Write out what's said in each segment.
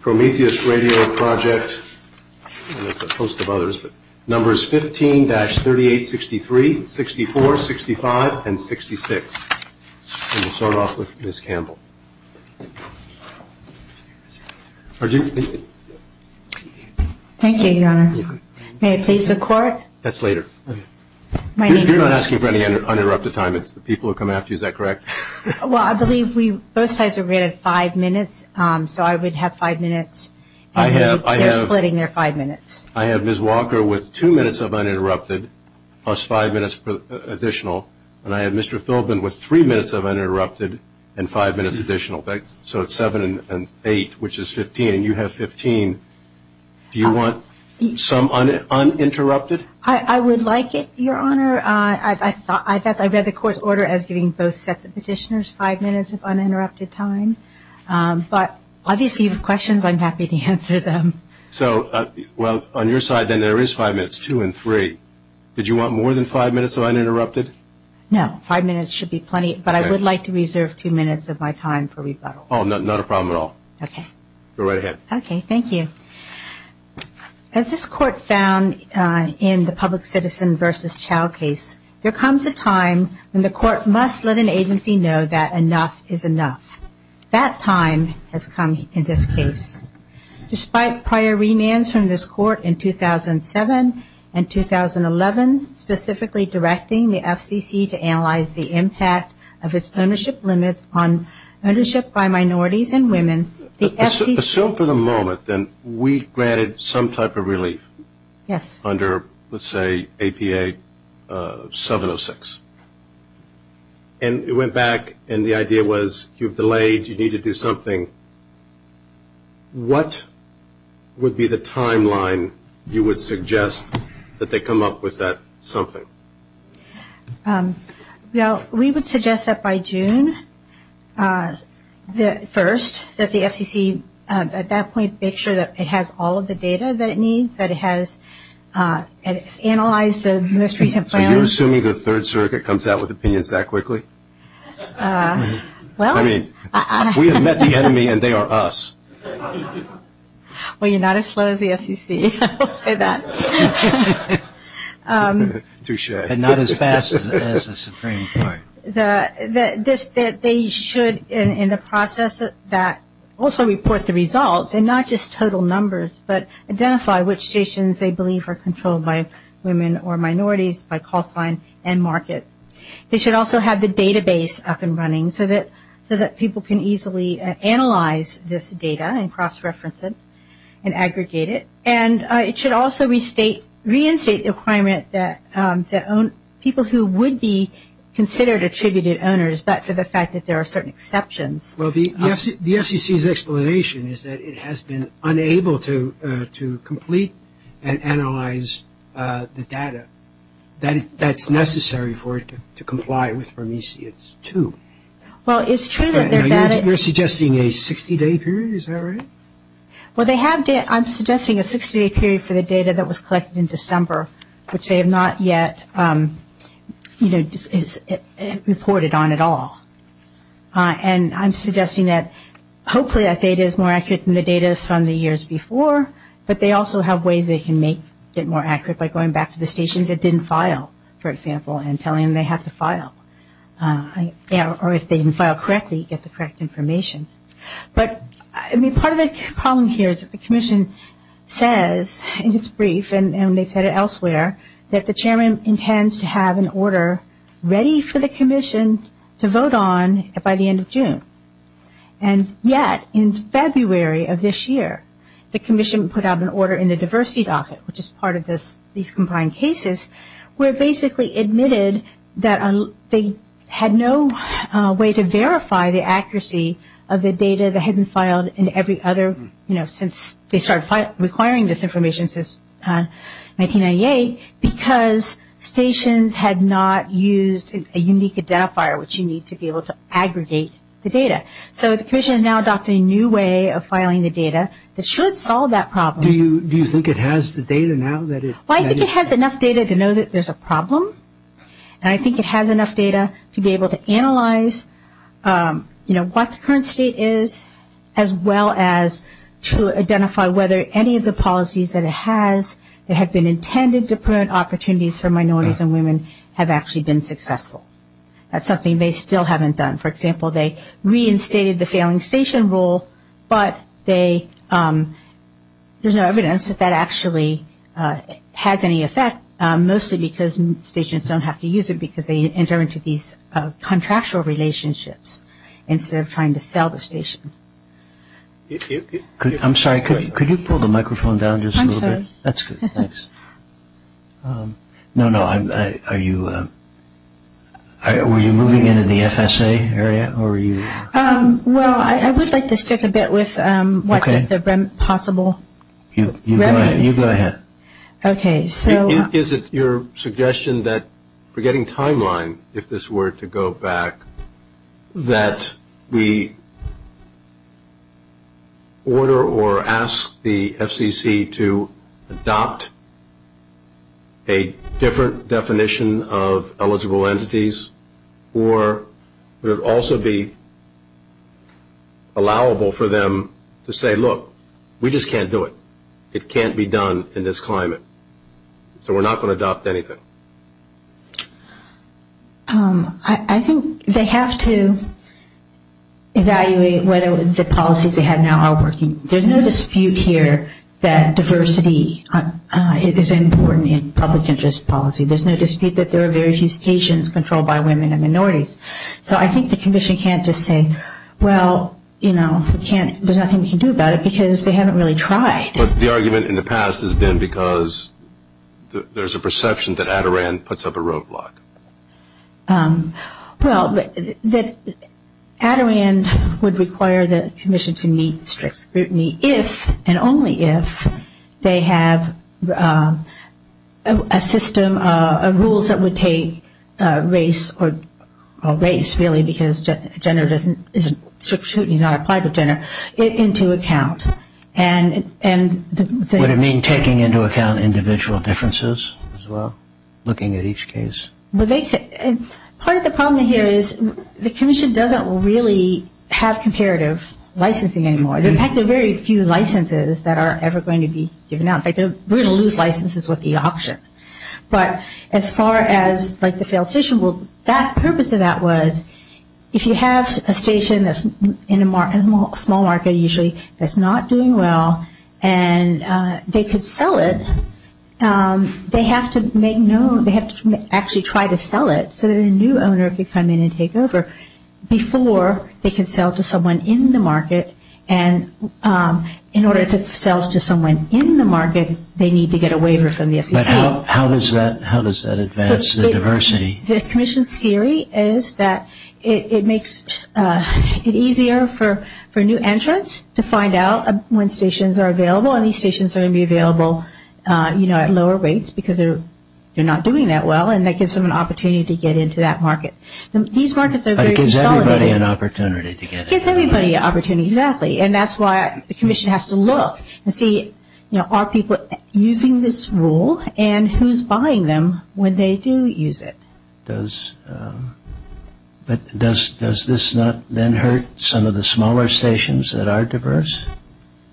Prometheus Radio Project, 15-3863, 64, 65, and 66. We'll start off with Ms. Campbell. Thank you, John. May I please have court? That's later. You're not asking for any uninterrupted time. It's the people who are coming after you. Is that correct? Well, I believe both sides are rated five minutes, so I would have five minutes. I believe they're splitting their five minutes. I have Ms. Walker with two minutes of uninterrupted plus five minutes additional, and I have Mr. Thobin with three minutes of uninterrupted and five minutes additional. So it's seven and eight, which is 15, and you have 15. Do you want some uninterrupted? I would like it, Your Honor. I read the court's order as giving both sets of petitioners five minutes of uninterrupted time, but obviously you have questions. I'm happy to answer them. So on your side, then, there is five minutes, two and three. Did you want more than five minutes of uninterrupted? No. Five minutes should be plenty, but I would like to reserve two minutes of my time for rebuttal. Oh, not a problem at all. Okay. Go right ahead. Okay. Thank you. As this court found in the public citizen versus child case, there comes a time when the court must let an agency know that enough is enough. That time has come in this case. Despite prior remands from this court in 2007 and 2011, specifically directing the FCC to analyze the impact of its ownership limits on ownership by minorities and women, Assume for the moment that we granted some type of relief under, let's say, APA 706, and it went back and the idea was you've delayed, you need to do something. What would be the timeline you would suggest that they come up with that something? Well, we would suggest that by June 1st that the FCC, at that point, make sure that it has all of the data that it needs, that it has analyzed the misrepresentation. So you're assuming the Third Circuit comes out with opinions that quickly? I mean, we have met the enemy and they are us. Well, you're not as slow as the FCC, I will say that. Touche. And not as fast as the Supreme Court. That they should, in the process that also reports the results, and not just total numbers, but identify which stations they believe are controlled by women or minorities, by cost line and market. They should also have the database up and running so that people can easily analyze this data and cross-reference it and aggregate it. And it should also reinstate the requirement that people who would be considered attributed owners, but for the fact that there are certain exceptions. Well, the FCC's explanation is that it has been unable to complete and analyze the data. That's necessary for it to comply with Prometheus 2. Well, it's true that there's that. You're suggesting a 60-day period, is that right? Well, they have data. I'm suggesting a 60-day period for the data that was collected in December, which they have not yet, you know, reported on at all. And I'm suggesting that hopefully that data is more accurate than the data from the years before, but they also have ways they can make it more accurate by going back to the stations it didn't file, for example, and telling them they have to file. Or if they didn't file correctly, get the correct information. But, I mean, part of the problem here is that the commission says in its brief, and they've said it elsewhere, that the chairman intends to have an order ready for the commission to vote on by the end of June. And yet, in February of this year, the commission put out an order in the diversity docket, which is part of these combined cases, where it basically admitted that they had no way to verify the accuracy of the data that had been filed in every other, you know, since they started requiring this information since 1998, because stations had not used a unique identifier, which you need to be able to aggregate the data. So, the commission has now adopted a new way of filing the data that should solve that problem. Do you think it has the data now? Well, I think it has enough data to know that there's a problem. And I think it has enough data to be able to analyze, you know, what the current state is, as well as to identify whether any of the policies that it has, that have been intended to prevent opportunities for minorities and women, have actually been successful. That's something they still haven't done. For example, they reinstated the failing station rule, but there's no evidence that that actually has any effect, mostly because stations don't have to use it because they enter into these contractual relationships, instead of trying to sell the station. I'm sorry, could you pull the microphone down just a little bit? I'm sorry. That's good, thanks. No, no, were you moving into the FSA area, or were you... Well, I would like to stick a bit with what is the possible... You go ahead. Okay, so... Is it your suggestion that, forgetting timeline, if this were to go back, that we order or ask the FCC to adopt a different definition of eligible entities, or would it also be allowable for them to say, look, we just can't do it. It can't be done in this climate. So we're not going to adopt anything. I think they have to evaluate whether the policies they have now are working. There's no dispute here that diversity is important in public interest policy. There's no dispute that there are very few stations controlled by women and minorities. So I think the condition can't just say, well, you know, there's nothing we can do about it because they haven't really tried. But the argument in the past has been because there's a perception that ADORAN puts up a roadblock. Well, ADORAN would require the Commission to meet strict scrutiny if and only if they have a system of rules that would take race or race, really, because gender isn't strict scrutiny, not applied to gender, into account. Would it mean taking into account individual differences as well, looking at each case? Part of the problem here is the Commission doesn't really have comparative licensing anymore. In fact, there are very few licenses that are ever going to be given out. We're going to lose licenses with the option. But as far as, like, the failed station, well, the purpose of that was if you have a station that's in a small market usually that's not doing well and they could sell it, they have to make known, they have to actually try to sell it so that a new owner could come in and take over before they can sell to someone in the market. And in order to sell to someone in the market, they need to get a waiver from the FCC. But how does that advance the diversity? The Commission's theory is that it makes it easier for new entrants to find out when stations are available and these stations are going to be available, you know, at lower rates because they're not doing that well and that gives them an opportunity to get into that market. But it gives everybody an opportunity to get in. It gives everybody an opportunity, exactly, and that's why the Commission has to look and see, you know, are people using this rule and who's buying them when they do use it? Does this not then hurt some of the smaller stations that are diverse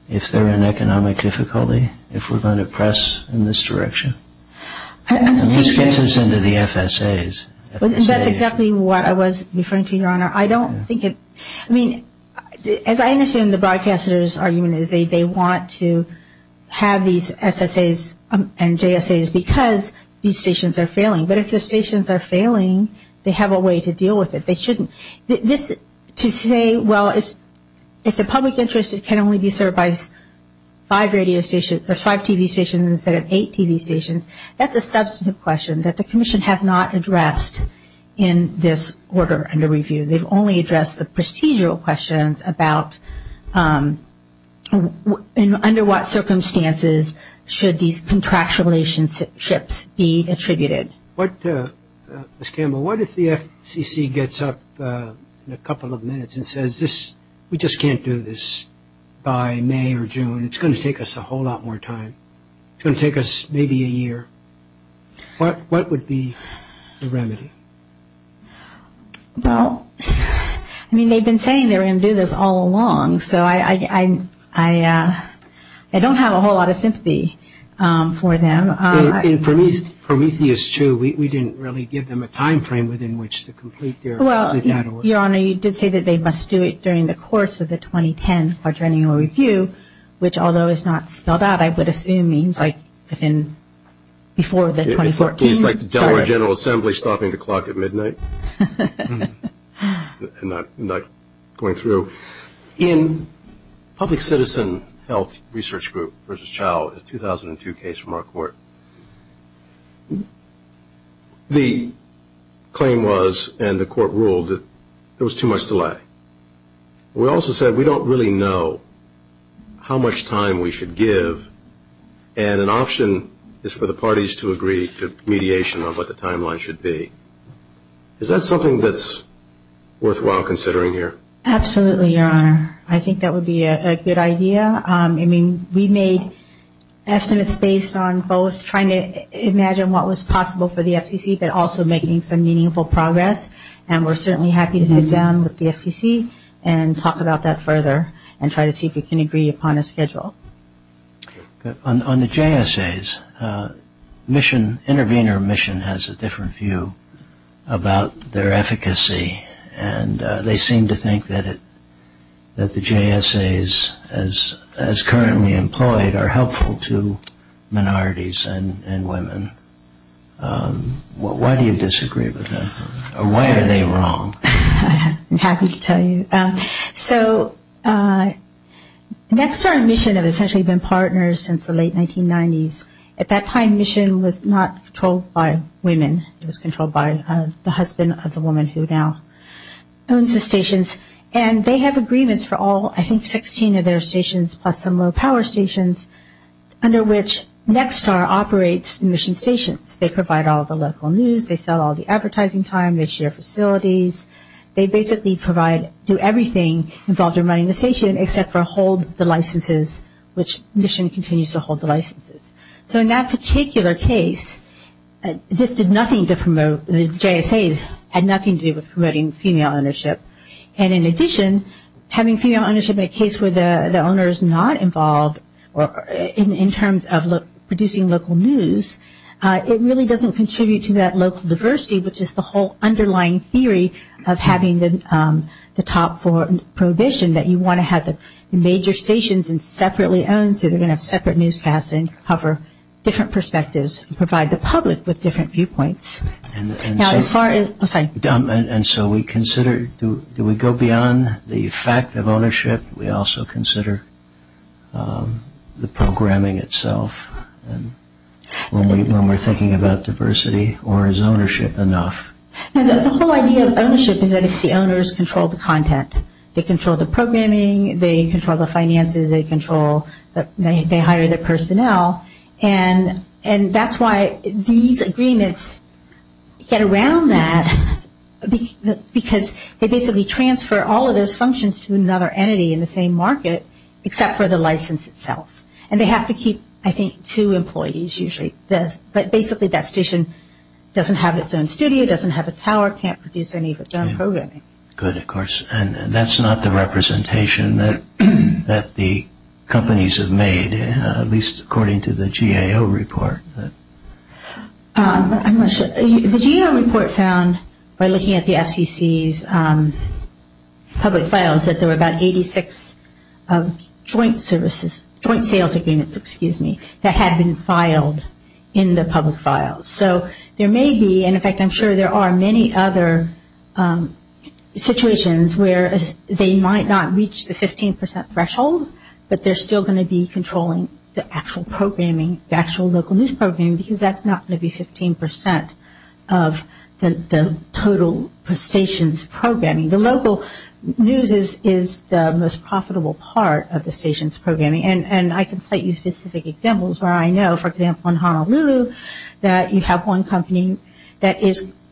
if they're in economic difficulty, if we're going to press in this direction? And this gets us into the FSAs. I mean, as I understand the broadcaster's argument is they want to have these SSAs and JSAs because these stations are failing. But if the stations are failing, they have a way to deal with it. They shouldn't. To say, well, if the public interest can only be served by five radio stations or five TV stations instead of eight TV stations, that's a substantive question that the Commission has not addressed in this order under review. They've only addressed the procedural questions about under what circumstances should these contractual relationships be attributed. Ms. Campbell, what if the FCC gets up in a couple of minutes and says, we just can't do this by May or June. It's going to take us a whole lot more time. It's going to take us maybe a year. What would be the remedy? Well, I mean, they've been saying they're going to do this all along. So I don't have a whole lot of sympathy for them. For me, it's true. We didn't really give them a time frame within which to complete their data. Well, Your Honor, you did say that they must do it during the course of the 2010 quadrennial review, which although it's not spelled out, I would assume means like before the 2014. It means like the Delaware General Assembly stopping the clock at midnight and not going through. In Public Citizen Health Research Group v. Chao, a 2002 case from our court, the claim was and the court ruled that there was too much delay. We also said we don't really know how much time we should give and an option is for the parties to agree to mediation on what the timeline should be. Is that something that's worthwhile considering here? Absolutely, Your Honor. I think that would be a good idea. I mean, we made estimates based on both trying to imagine what was possible for the FCC but also making some meaningful progress. We're certainly happy to sit down with the FCC and talk about that further and try to see if we can agree upon a schedule. On the JSAs, Intervenor Mission has a different view about their efficacy and they seem to think that the JSAs as currently employed are helpful to minorities and women. Why do you disagree with them? Why are they wrong? I'm happy to tell you. So, Nexstar and Mission have essentially been partners since the late 1990s. At that time, Mission was not controlled by women. It was controlled by the husband of the woman who now owns the stations and they have agreements for all, I think, 15 of their stations plus some low-power stations under which Nexstar operates the Mission stations. They provide all the local news. They sell all the advertising time. They share facilities. They basically provide, do everything involved in running the station except for hold the licenses which Mission continues to hold the licenses. So, in that particular case, this did nothing to promote. The JSAs had nothing to do with promoting female ownership. And in addition, having female ownership in a case where the owner is not involved in terms of producing local news, it really doesn't contribute to that local diversity which is the whole underlying theory of having the top four prohibition that you want to have the major stations separately owned so they're going to have separate newscasts and cover different perspectives and provide the public with different viewpoints. And so we consider, do we go beyond the fact of ownership? We also consider the programming itself and when we're thinking about diversity or is ownership enough? The whole idea of ownership is that the owners control the content. They control the programming. They control the finances. They control, they hire the personnel. And that's why these agreements get around that because they basically transfer all of those functions to another entity in the same market except for the license itself. And they have to keep, I think, two employees usually. But basically, that station doesn't have its own studio, doesn't have its tower, can't produce any of its own programming. Good, of course. And that's not the representation that the companies have made at least according to the GAO report. The GAO report found by looking at the FCC's public files that there were about 86 joint services, joint sales agreements, excuse me, that had been filed in the public files. So there may be, and in fact I'm sure there are many other situations where they might not reach the 15% threshold but they're still going to be controlling the actual programming, the actual local news programming because that's not going to be 15% of the total stations programming. The local news is the most profitable part of the stations programming. And I can cite you specific examples where I know, for example, in Honolulu that you have one company that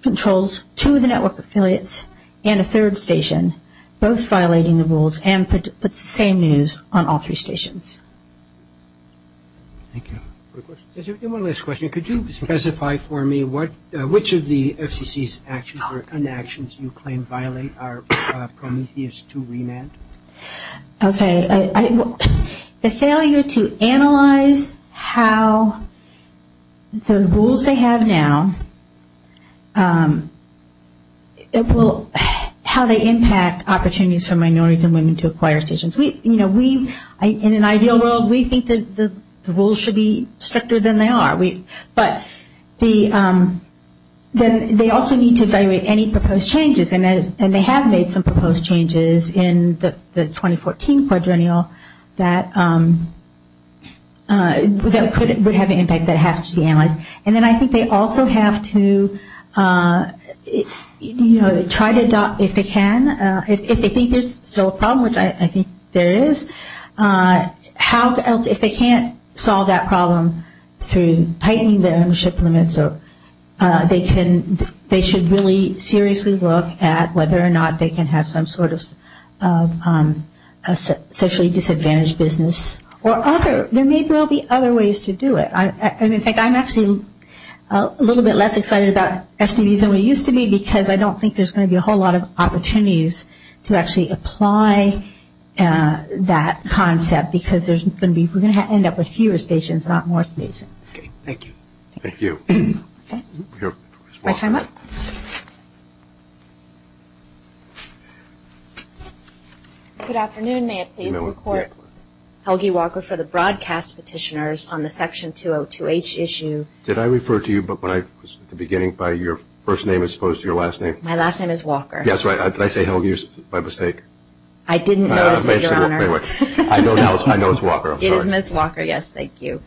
controls two of the network affiliates and a third station, both violating the rules and puts the same news on all three stations. Thank you. One last question. Could you specify for me which of the FCC's actions or inactions you claim violate our Prometheus II remand? Okay. The failure to analyze how the rules they have now, how they impact opportunities for minorities and women to acquire stations. You know, we, in an ideal world, we think that the rules should be stricter than they are. But they also need to evaluate any proposed changes and they have made some proposed changes in the 2014 quadrennial that could have an impact that has to be analyzed. And then I think they also have to, you know, try to adopt, if they can, if they think there's still a problem, which I think there is, if they can't solve that problem through tightening their ownership limits or they should really seriously look at whether or not they can have some sort of a socially disadvantaged business or other. There may well be other ways to do it. And, in fact, I'm actually a little bit less excited about STDs than we used to be because I don't think there's going to be a whole lot of opportunities to actually apply that concept because we're going to end up with fewer stations, not more stations. Okay. Thank you. Thank you. Good afternoon. May I please report Helgi Walker for the broadcast petitioners on the Section 202H issue? Did I refer to you at the beginning by your first name as opposed to your last name? My last name is Walker. Yes, right. Did I say Helgi by mistake? I didn't, Your Honor. Thanks very much. I know it's Walker. It is Miss Walker. Yes, thank you.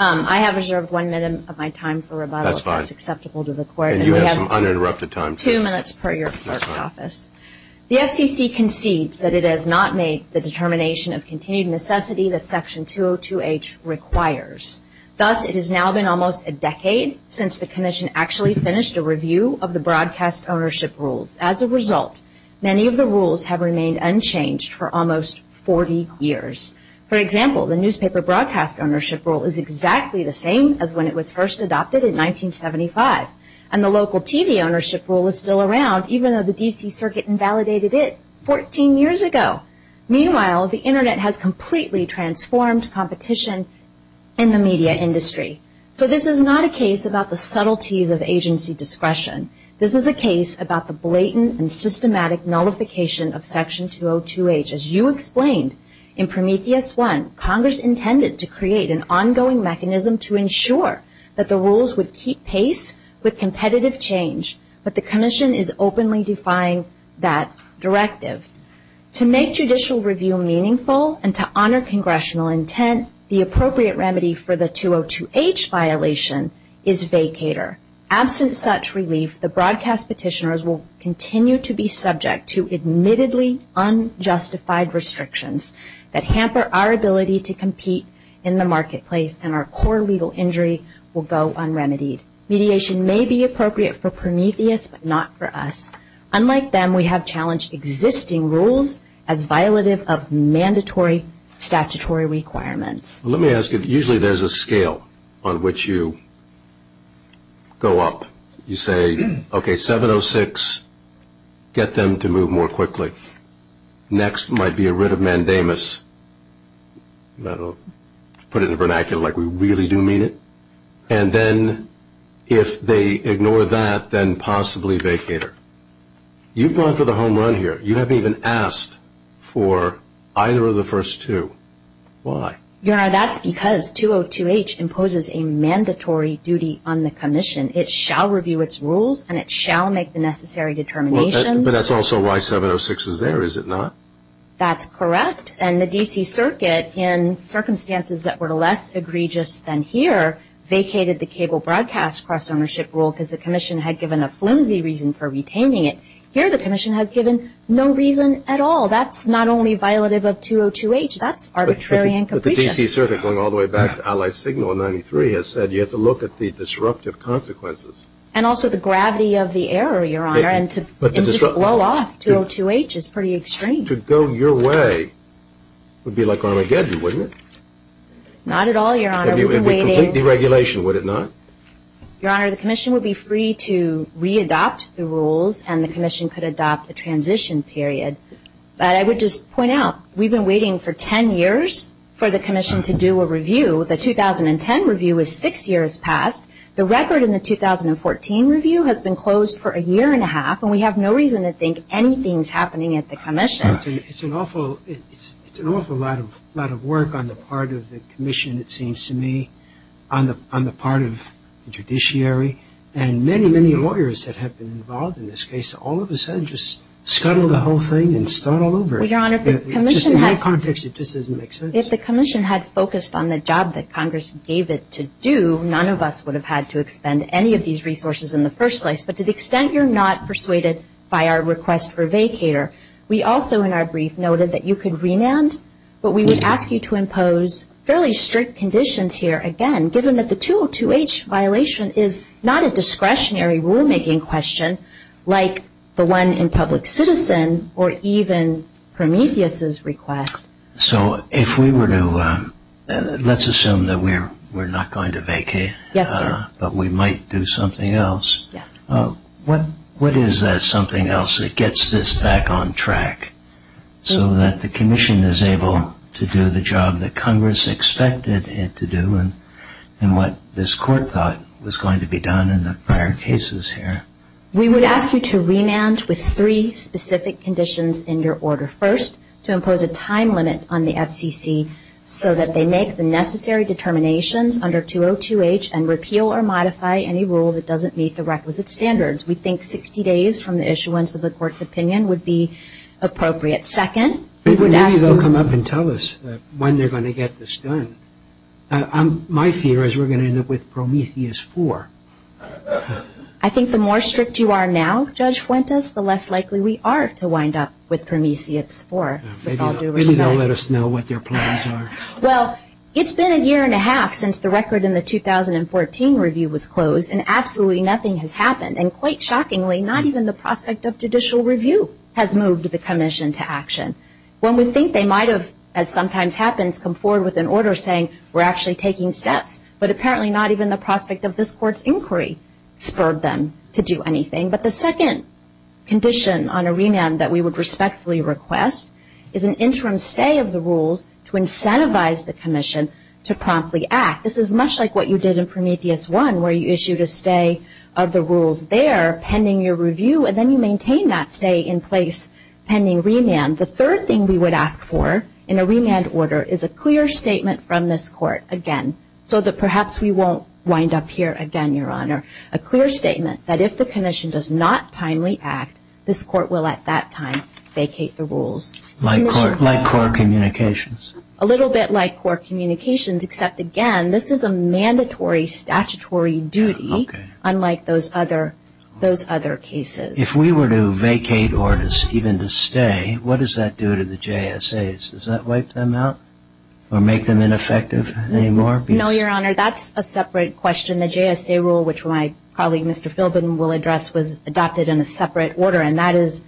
I have reserved one minute of my time for rebuttal if that's acceptable to the Court. That's fine. And you have some uninterrupted time. Two minutes per your first office. The FCC concedes that it has not made the determination of continued necessity that Section 202H requires. Thus, it has now been almost a decade since the Commission actually finished a review of the broadcast ownership rules. As a result, many of the rules have remained unchanged for almost 40 years. For example, the Newspaper Broadcast Ownership Rule is exactly the same as when it was first adopted in 1975. And the Local TV Ownership Rule is still around even though the D.C. Circuit invalidated it 14 years ago. Meanwhile, the Internet has completely transformed competition in the media industry. So this is not a case about the subtleties of agency discretion. This is a case about the blatant and systematic nullification of Section 202H. As you explained, in Prometheus I, Congress intended to create an ongoing mechanism to ensure that the rules would keep pace with competitive change. But the Commission is openly defying that directive. To make judicial review meaningful and to honor congressional intent, the appropriate remedy for the 202H violation is vacator. Absent such relief, the broadcast petitioners will continue to be subject to admittedly unjustified restrictions that hamper our ability to compete in the marketplace and our core legal injury will go unremitied. Mediation may be appropriate for Prometheus but not for us. Unlike them, we have challenged existing rules as violative of mandatory statutory requirements. Let me ask you, usually there's a scale on which you go up. You say, okay, 706, get them to move more quickly. Next might be a writ of mandamus. I'll put it in vernacular like we really do mean it. And then if they ignore that, then possibly vacator. You've gone for the home run here. You haven't even asked for either of the first two. Why? That's because 202H imposes a mandatory duty on the Commission. It shall review its rules and it shall make the necessary determinations. But that's also why 706 is there, is it not? That's correct. And the D.C. Circuit, in circumstances that were less egregious than here, vacated the cable broadcast cross-ownership rule because the Commission had given a flimsy reason for retaining it. Here the Commission has given no reason at all. Well, that's not only violative of 202H. That's arbitrary incompletion. But the D.C. Circuit, going all the way back to Allied Signal in 93, has said you have to look at the disruptive consequences. And also the gravity of the error, Your Honor, and to just blow off 202H is pretty extreme. To go your way would be like Ronald Gadget, wouldn't it? Not at all, Your Honor. It would be complete deregulation, would it not? Your Honor, the Commission would be free to readopt the rules and the Commission could adopt the transition period. But I would just point out, we've been waiting for 10 years for the Commission to do a review. The 2010 review was six years past. The record in the 2014 review has been closed for a year and a half, and we have no reason to think anything's happening at the Commission. It's an awful lot of work on the part of the Commission, it seems to me, on the part of the judiciary, and many, many lawyers that have been involved in this case, all of a sudden just scuttle the whole thing and start all over. Well, Your Honor, if the Commission had focused on the job that Congress gave it to do, none of us would have had to expend any of these resources in the first place. But to the extent you're not persuaded by our request for a vacator, we also in our brief noted that you could remand, but we would ask you to impose fairly strict conditions here again, given that the 202H violation is not a discretionary rulemaking question, like the one in public citizen or even Prometheus's request. So if we were to, let's assume that we're not going to vacate, but we might do something else. What is that something else that gets this back on track so that the Commission is able to do the job that Congress expected it to do and what this Court thought was going to be done in the prior cases here? We would ask you to remand with three specific conditions in your order. First, to impose a time limit on the FCC so that they make the necessary determinations under 202H and repeal or modify any rule that doesn't meet the requisite standards. We think 60 days from the issuance of the Court's opinion would be appropriate. Maybe they'll come up and tell us when they're going to get this done. My fear is we're going to end up with Prometheus 4. I think the more strict you are now, Judge Fuentes, the less likely we are to wind up with Prometheus 4. Maybe they'll let us know what their plans are. Well, it's been a year and a half since the record in the 2014 review was closed, and absolutely nothing has happened. And quite shockingly, not even the prospect of judicial review has moved the Commission to action. One would think they might have, as sometimes happens, come forward with an order saying, we're actually taking steps, but apparently not even the prospect of this Court's inquiry spurred them to do anything. But the second condition on a remand that we would respectfully request is an interim stay of the rules to incentivize the Commission to promptly act. This is much like what you did in Prometheus 1, where you issued a stay of the rules there pending your review, and then you maintain that stay in place pending remand. The third thing we would ask for in a remand order is a clear statement from this Court, again, so that perhaps we won't wind up here again, Your Honor, a clear statement that if the Commission does not timely act, this Court will at that time vacate the rules. Like core communications. A little bit like core communications, except, again, this is a mandatory statutory duty, unlike those other cases. If we were to vacate orders, even to stay, what does that do to the JSAs? Does that wipe them out or make them ineffective anymore? No, Your Honor, that's a separate question. The JSA rule, which probably Mr. Philbin will address, was adopted in a separate order, and that is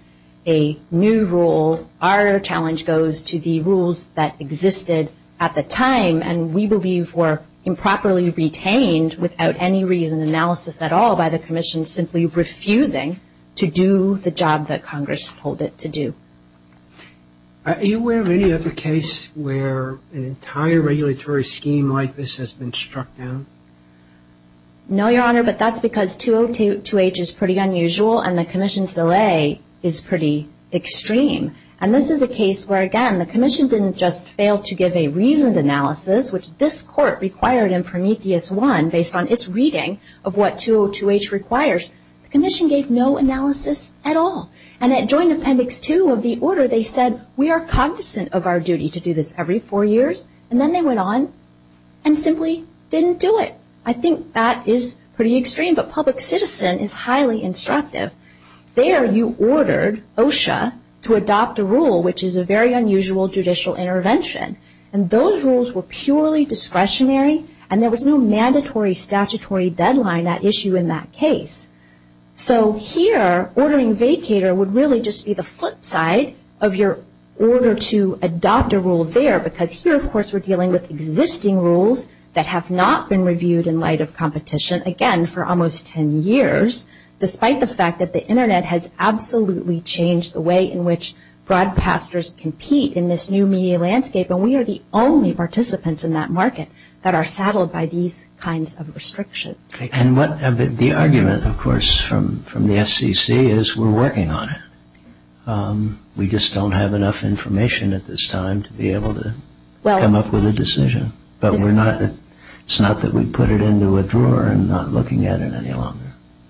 a new rule. Our challenge goes to the rules that existed at the time, and we believe were improperly retained without any reason, analysis at all, by the Commission simply refusing to do the job that Congress told it to do. Are you aware of any other case where an entire regulatory scheme like this has been struck down? No, Your Honor, but that's because 202H is pretty unusual, and the Commission's delay is pretty extreme. And this is a case where, again, the Commission didn't just fail to give a reasoned analysis, which this Court required in Prometheus 1, based on its reading of what 202H requires. The Commission gave no analysis at all. And at Joint Appendix 2 of the order, they said, we are cognizant of our duty to do this every four years, and then they went on and simply didn't do it. I think that is pretty extreme, but public citizen is highly instructive. There, you ordered OSHA to adopt a rule, which is a very unusual judicial intervention, and those rules were purely discretionary, and there was no mandatory statutory deadline at issue in that case. So here, ordering vacator would really just be the flip side of your order to adopt a rule there, because here, of course, we're dealing with existing rules that have not been reviewed in light of competition, again, for almost 10 years, despite the fact that the Internet has absolutely changed the way in which broadcasters compete in this new media landscape, and we are the only participants in that market that are saddled by these kinds of restrictions. And the argument, of course, from the FCC is we're working on it. We just don't have enough information at this time to be able to come up with a decision, but it's not that we put it into a drawer and are not looking at it any longer.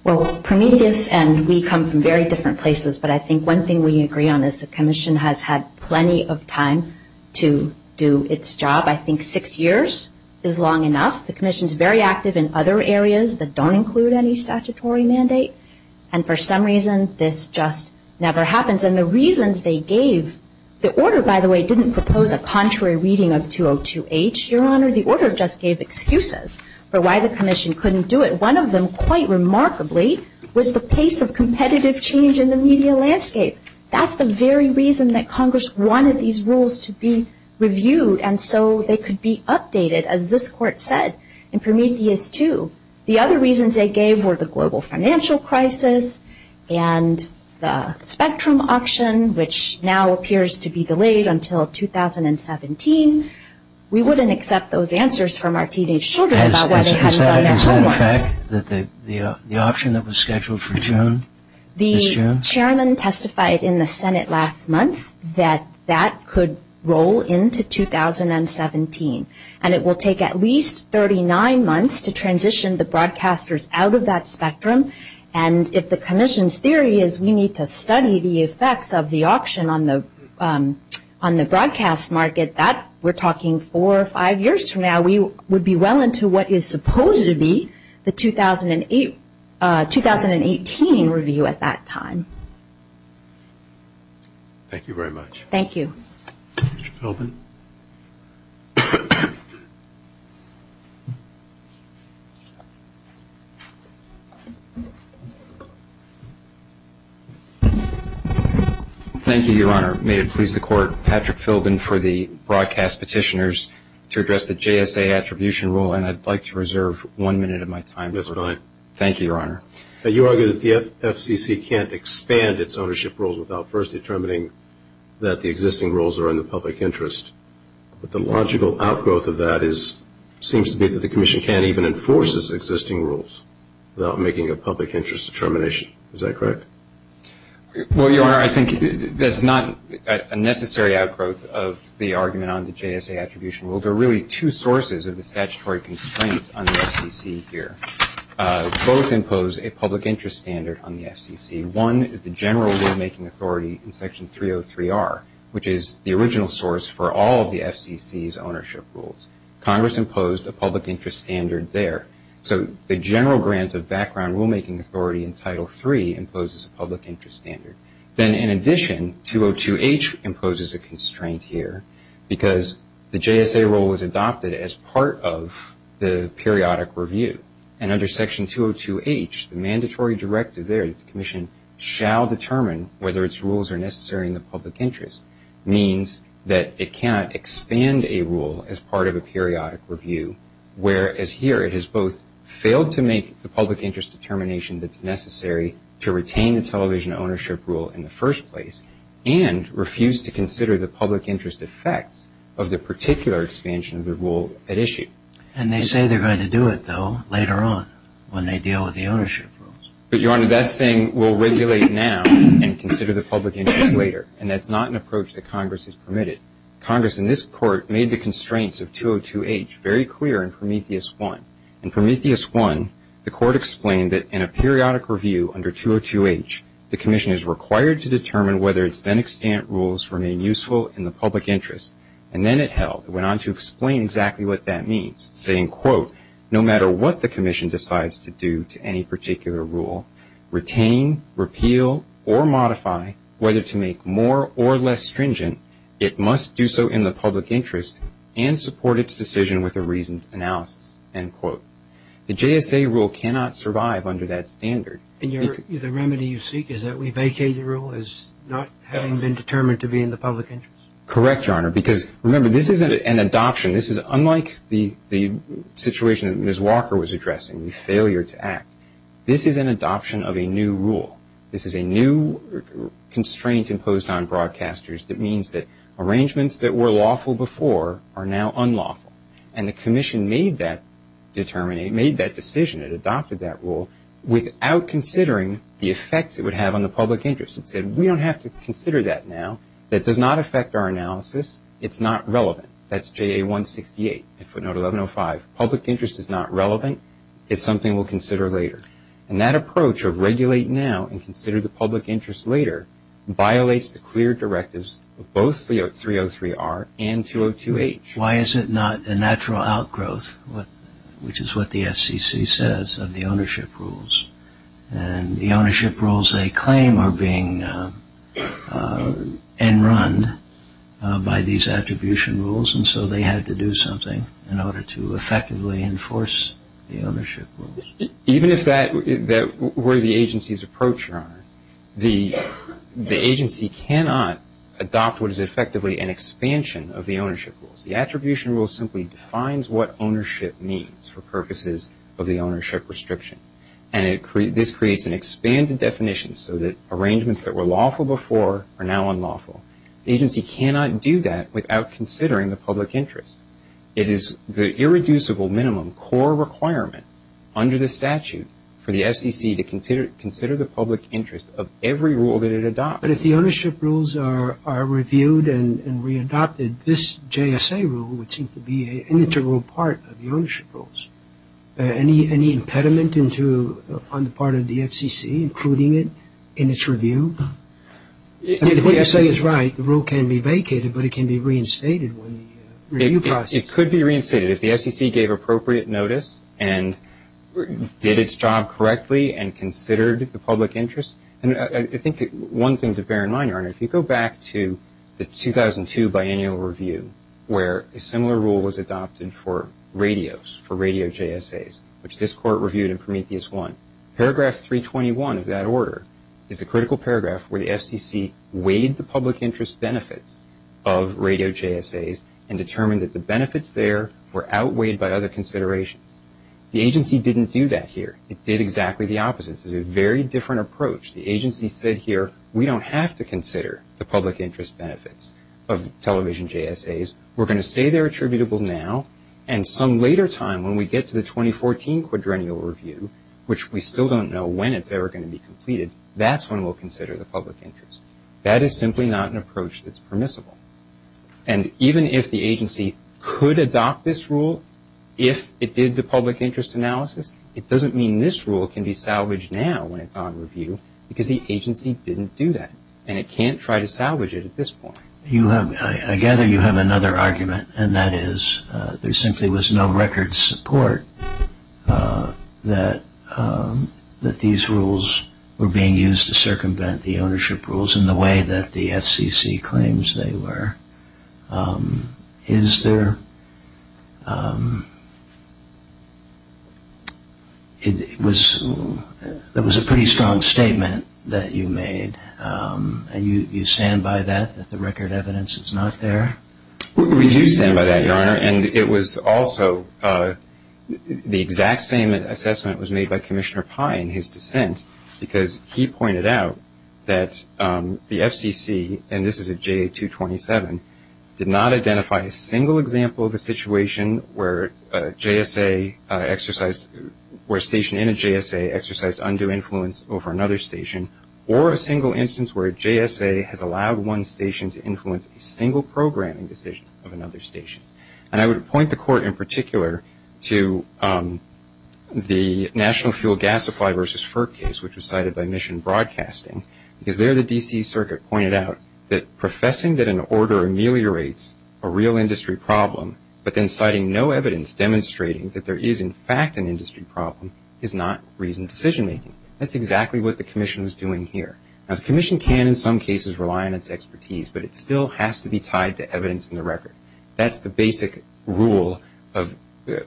Well, Prometheus and we come from very different places, but I think one thing we agree on is the Commission has had plenty of time to do its job. I think six years is long enough. The Commission is very active in other areas that don't include any statutory mandate, and for some reason, this just never happens. And the reasons they gave, the order, by the way, didn't propose a contrary reading of 202H, Your Honor. The order just gave excuses for why the Commission couldn't do it. One of them, quite remarkably, was the pace of competitive change in the media landscape. That's the very reason that Congress wanted these rules to be reviewed, and so they could be updated, as this Court said, in Prometheus 2. The other reasons they gave were the global financial crisis and the spectrum auction, which now appears to be delayed until 2017. We wouldn't accept those answers from our teenage children about whether they had money or not. Is that a fact, that the auction that was scheduled for June? The chairman testified in the Senate last month that that could roll into 2017, and it will take at least 39 months to transition the broadcasters out of that spectrum, and if the Commission's theory is we need to study the effects of the auction on the broadcast market, that we're talking four or five years from now, we would be well into what is supposed to be the 2018 review at that time. Thank you very much. Thank you. Mr. Philbin. Thank you, Your Honor. May it please the Court, Patrick Philbin for the broadcast petitioners to address the JSA attribution rule, and I'd like to reserve one minute of my time. That's fine. Thank you, Your Honor. You argue that the FCC can't expand its ownership rules without first determining that the existing rules are in the public interest. But the logical outgrowth of that seems to be that the Commission can't even enforce its existing rules without making a public interest determination. Is that correct? Well, Your Honor, I think that's not a necessary outgrowth of the argument on the JSA attribution rule. So there are really two sources of the statutory constraints on the FCC here. Both impose a public interest standard on the FCC. One is the general rulemaking authority in Section 303R, which is the original source for all of the FCC's ownership rules. Congress imposed a public interest standard there. So the general grant of background rulemaking authority in Title III imposes a public interest standard. Then in addition, 202H imposes a constraint here because the JSA rule was adopted as part of the periodic review. And under Section 202H, the mandatory directive there, the Commission shall determine whether its rules are necessary in the public interest, means that it cannot expand a rule as part of a periodic review, whereas here it has both failed to make the public interest determination that's necessary to retain the television ownership rule in the first place and refused to consider the public interest effect of the particular expansion of the rule at issue. And they say they're going to do it, though, later on when they deal with the ownership rules. But, Your Honor, that thing will regulate now and consider the public interest later. And that's not an approach that Congress has permitted. Congress in this Court made the constraints of 202H very clear in Prometheus I. In Prometheus I, the Court explained that in a periodic review under 202H, the Commission is required to determine whether its then-extant rules remain useful in the public interest. And then it held. It went on to explain exactly what that means, saying, quote, no matter what the Commission decides to do to any particular rule, retain, repeal, or modify, whether to make more or less stringent, it must do so in the public interest and support its decision with a reasoned analysis, end quote. The JSA rule cannot survive under that standard. And the remedy you seek is that we vacate the rule as not having been determined to be in the public interest? Correct, Your Honor, because, remember, this isn't an adoption. This is unlike the situation that Ms. Walker was addressing, the failure to act. This is an adoption of a new rule. This is a new constraint imposed on broadcasters that means that arrangements that were lawful before are now unlawful. And the Commission made that decision, it adopted that rule, without considering the effects it would have on the public interest. It said, we don't have to consider that now. That does not affect our analysis. It's not relevant. That's JA 168, footnote 1105. Public interest is not relevant. It's something we'll consider later. And that approach of regulate now and consider the public interest later violates the clear directives of both 303R and 202H. Why is it not a natural outgrowth, which is what the FCC says, of the ownership rules? And the ownership rules they claim are being en run by these attribution rules, and so they had to do something in order to effectively enforce the ownership rules. Even if that were the agency's approach, Your Honor, the agency cannot adopt what is effectively an expansion of the ownership rules. The attribution rule simply defines what ownership means for purposes of the ownership restriction, and this creates an expanded definition so that arrangements that were lawful before are now unlawful. The agency cannot do that without considering the public interest. It is the irreducible minimum core requirement under the statute for the FCC to consider the public interest of every rule that it adopts. But if the ownership rules are reviewed and readopted, this JSA rule would seem to be an integral part of the ownership rules. Any impediment on the part of the FCC including it in its review? If the JSA is right, the rule can be vacated, but it can be reinstated. It could be reinstated if the FCC gave appropriate notice and did its job correctly and considered the public interest. I think one thing to bear in mind, Your Honor, if you go back to the 2002 biannual review where a similar rule was adopted for radios, for radio JSAs, which this Court reviewed in Prometheus 1, paragraph 321 of that order is a critical paragraph where the FCC weighed the public interest benefits of radio JSAs and determined that the benefits there were outweighed by other considerations. The agency didn't do that here. It did exactly the opposite. It was a very different approach. The agency said here, we don't have to consider the public interest benefits of television JSAs. We're going to say they're attributable now. And some later time when we get to the 2014 quadrennial review, which we still don't know when it's ever going to be completed, that's when we'll consider the public interest. That is simply not an approach that's permissible. And even if the agency could adopt this rule if it did the public interest analysis, it doesn't mean this rule can be salvaged now when it's on review because the agency didn't do that. And it can't try to salvage it at this point. I gather you have another argument and that is there simply was no record support that these rules were being used to circumvent the ownership rules in the way that the FCC claims they were. Is there? It was a pretty strong statement that you made. Do you stand by that, that the record evidence is not there? We do stand by that, Your Honor. And it was also the exact same assessment was made by Commissioner Pai in his dissent because he pointed out that the FCC, and this is a JA-227, did not identify a single example of a situation where a station in a JSA exercised undue influence over another station or a single instance where a JSA has allowed one station to influence a single programming decision of another station. And I would point the Court in particular to the National Fuel Gasifier versus FERC case, which was cited by Mission Broadcasting, because there the D.C. Circuit pointed out that professing that an order ameliorates a real industry problem, but then citing no evidence demonstrating that there is in fact an industry problem is not reasoned decision-making. That's exactly what the Commission was doing here. Now, the Commission can in some cases rely on its expertise, but it still has to be tied to evidence in the record. That's the basic rule of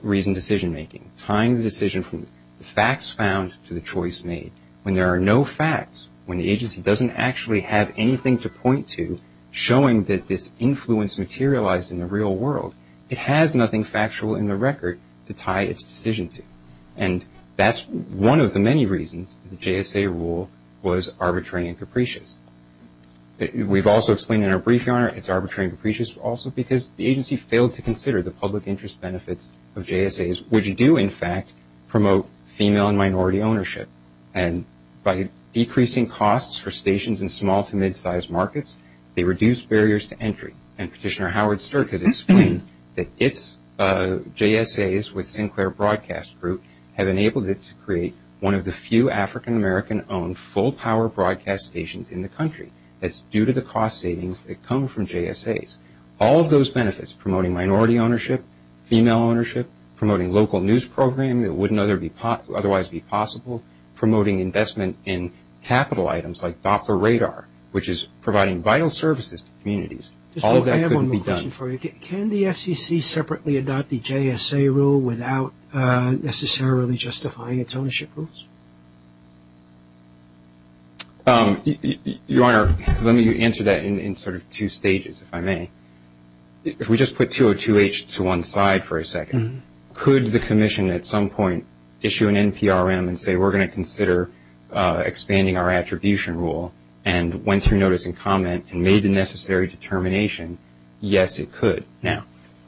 reasoned decision-making, tying the decision from the facts found to the choice made. When there are no facts, when the agency doesn't actually have anything to point to showing that this influence materialized in the real world, it has nothing factual in the record to tie its decision to. And that's one of the many reasons the JSA rule was arbitrary and capricious. We've also explained in our brief, Your Honor, it's arbitrary and capricious also because the agency failed to consider the public interest benefits of JSAs, which do in fact promote female and minority ownership. And by decreasing costs for stations in small to mid-sized markets, they reduce barriers to entry. And Petitioner Howard Sturt has explained that its JSAs with Sinclair Broadcast Group have enabled it to create one of the few African-American-owned full-power broadcast stations in the country. That's due to the cost savings that come from JSAs. All of those benefits, promoting minority ownership, female ownership, promoting local news programming that wouldn't otherwise be possible, promoting investment in capital items like Doppler radar, which is providing vital services to communities, all of that couldn't be done. I have a question for you. Can the FCC separately adopt the JSA rule without necessarily justifying its ownership rules? Your Honor, let me answer that in sort of two stages, if I may. If we just put 202H to one side for a second, could the commission at some point issue an NPRM and say we're going to consider expanding our attribution rule and went through notice and comment and made the necessary determination, yes, it could. Now,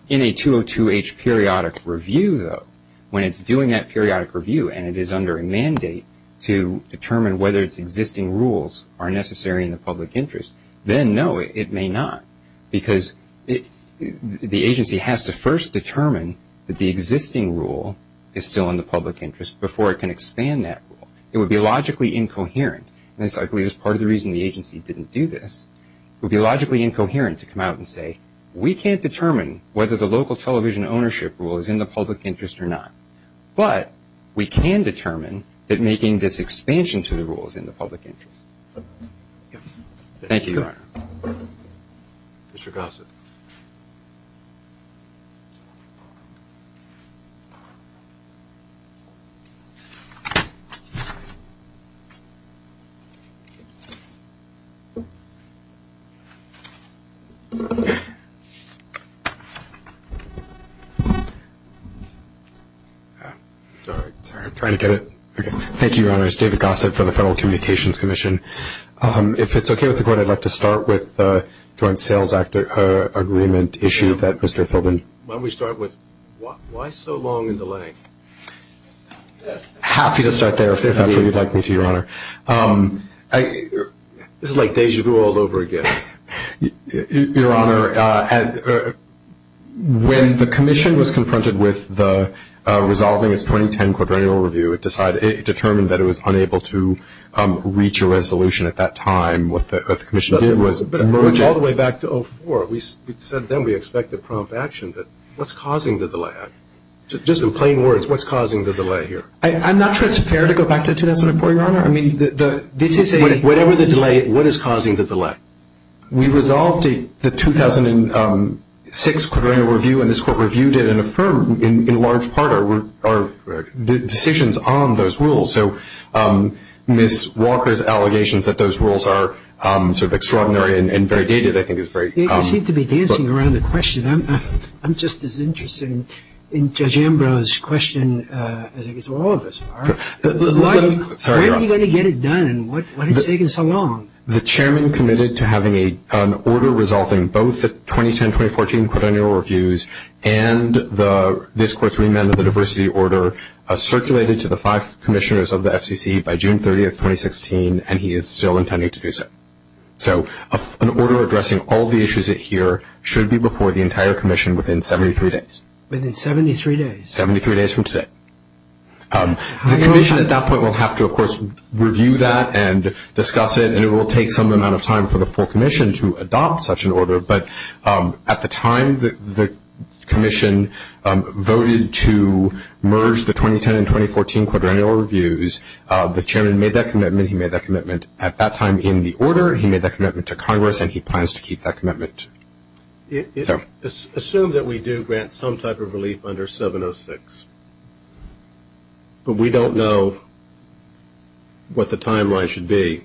in a 202H periodic review, though, when it's doing that periodic review and it is under a mandate to determine whether its existing rules are necessary in the public interest, then no, it may not because the agency has to first determine that the existing rule is still in the public interest before it can expand that rule. It would be logically incoherent. And this, I believe, is part of the reason the agency didn't do this. It would be logically incoherent to come out and say, we can't determine whether the local television ownership rule is in the public interest or not, but we can determine that making this expansion to the rule is in the public interest. Thank you, Your Honor. Mr. Gossett. Thank you, Your Honor. This is David Gossett for the Federal Communications Commission. If it's okay with the Court, I'd like to start with the Joint Sales Act agreement issue that Mr. Philbin. Why don't we start with why so long a delay? Happy to start there, if that's what you'd like me to, Your Honor. This is like deja vu all over again. Your Honor, when the Commission was confronted with resolving its 2010 quaternional review, it determined that it was unable to reach a resolution at that time. What the Commission did was emerge all the way back to 2004. We said then we expect a prompt action. What's causing the delay? Just in plain words, what's causing the delay here? I'm not sure it's fair to go back to 2004, Your Honor. Whatever the delay, what is causing the delay? We resolved the 2006 quaternional review, and this Court reviewed it and affirmed, in large part, our decisions on those rules. So Ms. Walker's allegations that those rules are sort of extraordinary and very dated, I think, is very- You seem to be dancing around the question. I'm just as interested in Judge Ambrose's question as all of us are. Why are you going to get it done? What is taking so long? The Chairman committed to having an order resolving both the 2010-2014 quaternional reviews and this Court's remand of the diversity order circulated to the five commissioners of the FCC by June 30, 2016, and he is still intending to do so. So an order addressing all the issues here should be before the entire Commission within 73 days. Within 73 days? Seventy-three days from today. The Commission at that point will have to, of course, review that and discuss it, and it will take some amount of time for the full Commission to adopt such an order, but at the time the Commission voted to merge the 2010 and 2014 quaternional reviews, the Chairman made that commitment, he made that commitment at that time in the order, he made that commitment to Congress, and he plans to keep that commitment. Assume that we do grant some type of relief under 706, but we don't know what the timeline should be.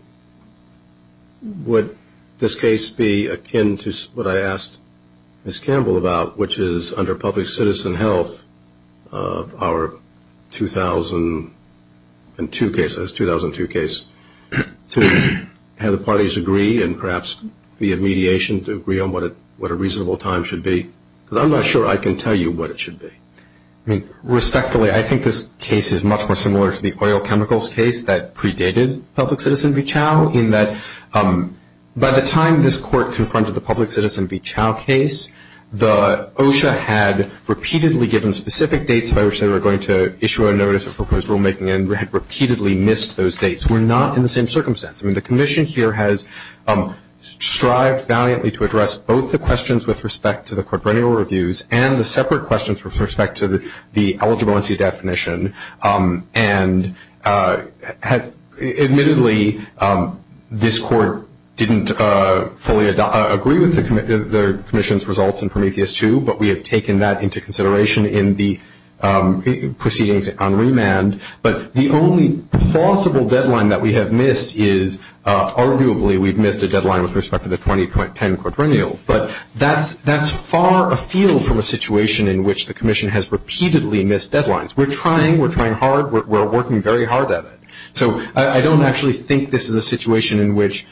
Would this case be akin to what I asked Ms. Campbell about, which is under public citizen health, of our 2002 cases, 2002 case, to have the parties agree and perhaps be a mediation to agree on what a reasonable time should be? Because I'm not sure I can tell you what it should be. Respectfully, I think this case is much more similar to the oil chemicals case that predated public citizen v. Chao in that by the time this Court confronted the public citizen v. by which they were going to issue a notice of proposed rulemaking and had repeatedly missed those dates. We're not in the same circumstance. I mean, the Commission here has strived valiantly to address both the questions with respect to the quaternional reviews and the separate questions with respect to the eligibility definition, and admittedly this Court didn't fully agree with the Commission's results in Prometheus II, but we have taken that into consideration in the proceedings on remand. But the only plausible deadline that we have missed is arguably we've missed a deadline with respect to the 2010 quaternionals. But that's far afield from a situation in which the Commission has repeatedly missed deadlines. We're trying, we're trying hard, we're working very hard at it. So I don't actually think this is a situation in which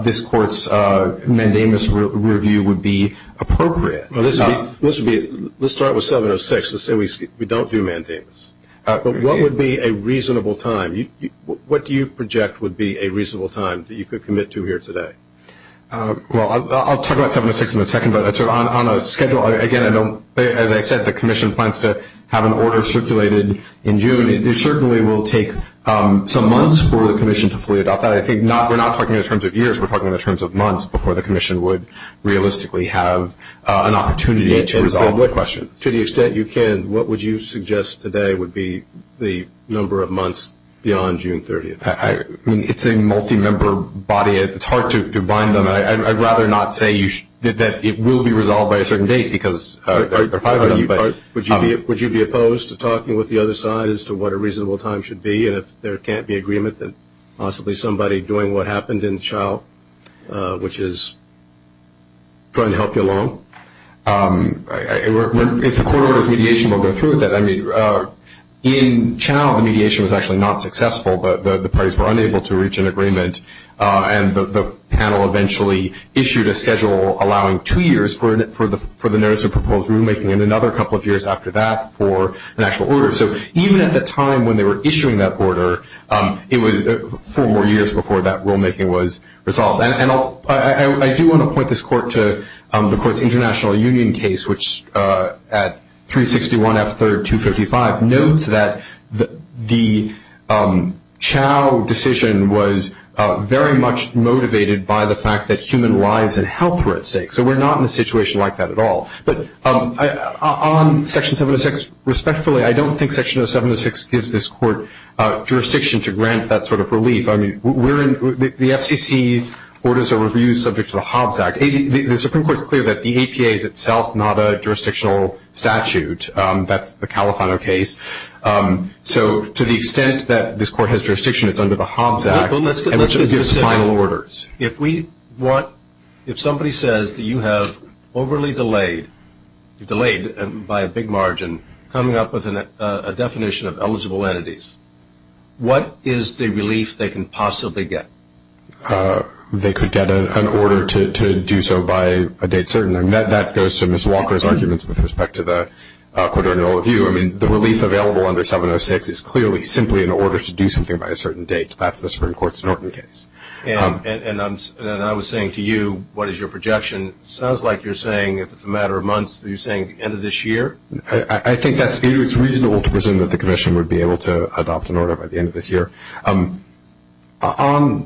this Court's mandamus review would be appropriate. Well, let's start with 706. Let's say we don't do mandamus. What would be a reasonable time? What do you project would be a reasonable time that you could commit to here today? Well, I'll talk about 706 in a second, but on a schedule, again, I don't, as I said, the Commission plans to have an order circulated in June. It certainly will take some months for the Commission to fully adopt that. I think we're not talking in terms of years. We're talking in terms of months before the Commission would realistically have an opportunity to resolve the question. To the extent you can, what would you suggest today would be the number of months beyond June 30th? I mean, it's a multi-member body. It's hard to bind them. I'd rather not say that it will be resolved by a certain date because I'm talking about you. Would you be opposed to talking with the other side as to what a reasonable time should be and if there can't be agreement, then possibly somebody doing what happened in Chao, which is try and help you along? It's a court order of mediation. We'll go through with that. I mean, in Chao, the mediation was actually not successful, but the parties were unable to reach an agreement, and the panel eventually issued a schedule allowing two years for the notice of proposed rulemaking and another couple of years after that for an actual order. So even at the time when they were issuing that order, it was four more years before that rulemaking was resolved. And I do want to point this court to the court's international union case, which at 361 F. 3rd, 255 notes that the Chao decision was very much motivated by the fact that human lives and health were at stake, so we're not in a situation like that at all. But on Section 706, respectfully, I don't think Section 706 gives this court jurisdiction to grant that sort of relief. I mean, the FCC orders a review subject to the Hobbs Act. The Supreme Court is clear that the APA is itself not a jurisdictional statute. That's the Califano case. So to the extent that this court has jurisdiction, it's under the Hobbs Act. Let's get into the final orders. If somebody says that you have overly delayed, delayed by a big margin, coming up with a definition of eligible entities, what is the relief they can possibly get? They could get an order to do so by a date certain. That goes to Ms. Walker's argument with respect to the quarterly review. I mean, the relief available under 706 is clearly simply in order to do something by a certain date. That's the Supreme Court's Norton case. And I was saying to you, what is your projection? It sounds like you're saying if it's a matter of months, are you saying the end of this year? I think it's reasonable to presume that the commission would be able to adopt an order by the end of this year. How does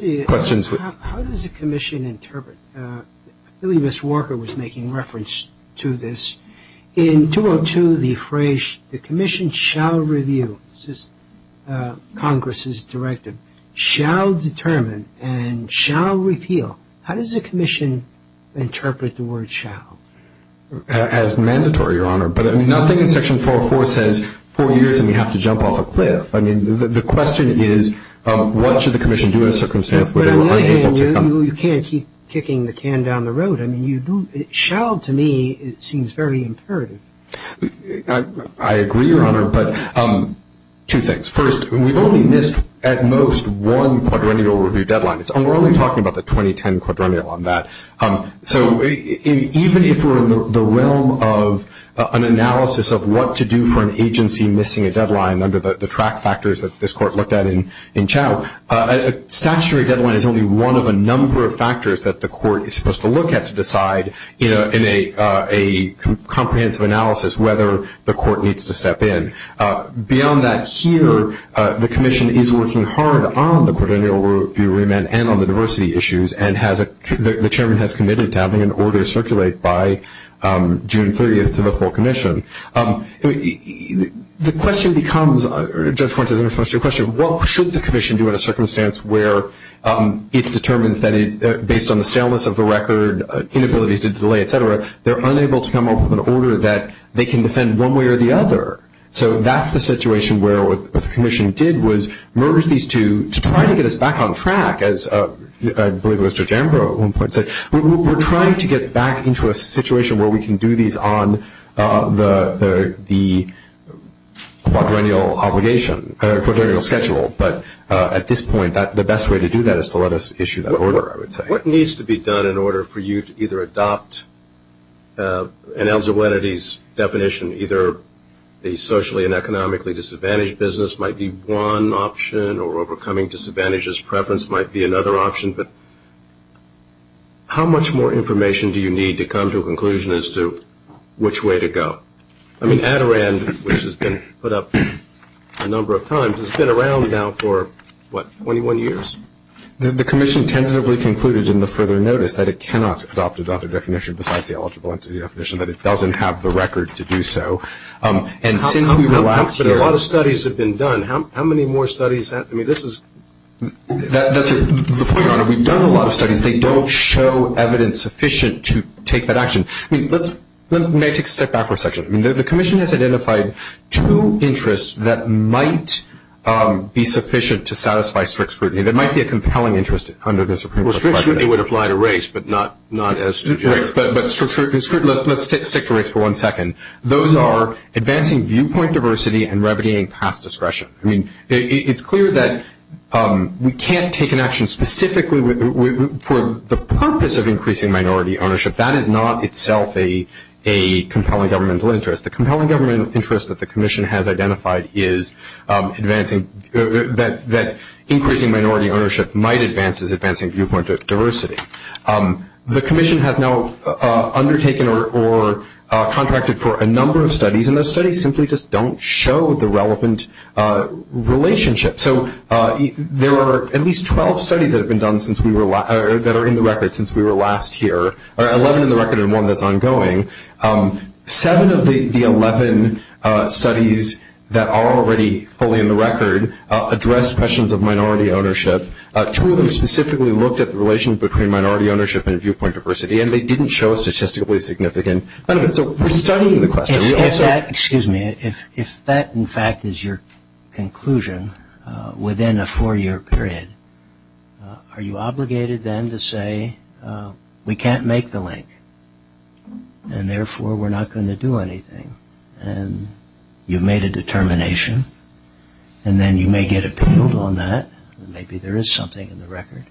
the commission interpret? I believe Ms. Walker was making reference to this. In 202, the phrase, the commission shall review, this is Congress's directive, shall determine and shall repeal. How does the commission interpret the word shall? As mandatory, Your Honor. But nothing in Section 404 says four years and we have to jump off a cliff. I mean, the question is, what should the commission do in a circumstance where they are unable to do that? You can't keep kicking the can down the road. I mean, shall, to me, seems very imperative. I agree, Your Honor, but two things. First, we've only missed at most one quadrennial review deadline. We're only talking about the 2010 quadrennial on that. So, even if we're in the realm of an analysis of what to do for an agency missing a deadline, under the track factors that this court looked at in chow, a statutory deadline is only one of a number of factors that the court is supposed to look at to decide, you know, in a comprehensive analysis, whether the court needs to step in. Beyond that, here, the commission is working hard on the quadrennial review remand and on the diversity issues and the chairman has committed to having an order circulate by June 30th to the full commission. The question becomes, Judge Francis, what should the commission do in a circumstance where it's determined that, based on the staleness of the record, inabilities to delay, et cetera, they're unable to come up with an order that they can defend one way or the other. So, that's the situation where what the commission did was merge these two to try to get us back on track, as I believe Mr. Jambro once said. We're trying to get back into a situation where we can do these on the quadrennial obligation, quadrennial schedule. But at this point, the best way to do that is to let us issue that order, I would say. What needs to be done in order for you to either adopt an eligibility's definition, either the socially and economically disadvantaged business might be one option or overcoming disadvantages preference might be another option, but how much more information do you need to come to a conclusion as to which way to go? I mean, Adirond, which has been put up a number of times, has been around now for, what, 21 years? The commission tentatively concluded in the further notice that it cannot adopt a definition besides the eligibility definition, that it doesn't have the record to do so. But a lot of studies have been done. How many more studies have been done? We've done a lot of studies. They don't show evidence sufficient to take that action. May I take a step back for a second? I mean, the commission has identified two interests that might be sufficient to satisfy strict scrutiny. There might be a compelling interest under this. Well, strict scrutiny would apply to race, but not as to race. But strict scrutiny, let's stick to race for one second. Those are advancing viewpoint diversity and remedying past discretion. I mean, it's clear that we can't take an action specifically for the purpose of increasing minority ownership. That is not itself a compelling governmental interest. The compelling governmental interest that the commission has identified is advancing that increasing minority ownership might advance as advancing viewpoint diversity. The commission has now undertaken or contracted for a number of studies, and those studies simply just don't show the relevant relationship. So there are at least 12 studies that have been done that are in the record since we were last here, or 11 in the record and one that's ongoing. Seven of the 11 studies that are already fully in the record address questions of minority ownership. Two of them specifically looked at the relation between minority ownership and viewpoint diversity, and they didn't show statistically significant. So we're studying the question. Excuse me. If that, in fact, is your conclusion within a four-year period, are you obligated then to say we can't make the link, and therefore we're not going to do anything, and you've made a determination, and then you may get appealed on that, and maybe there is something in the record,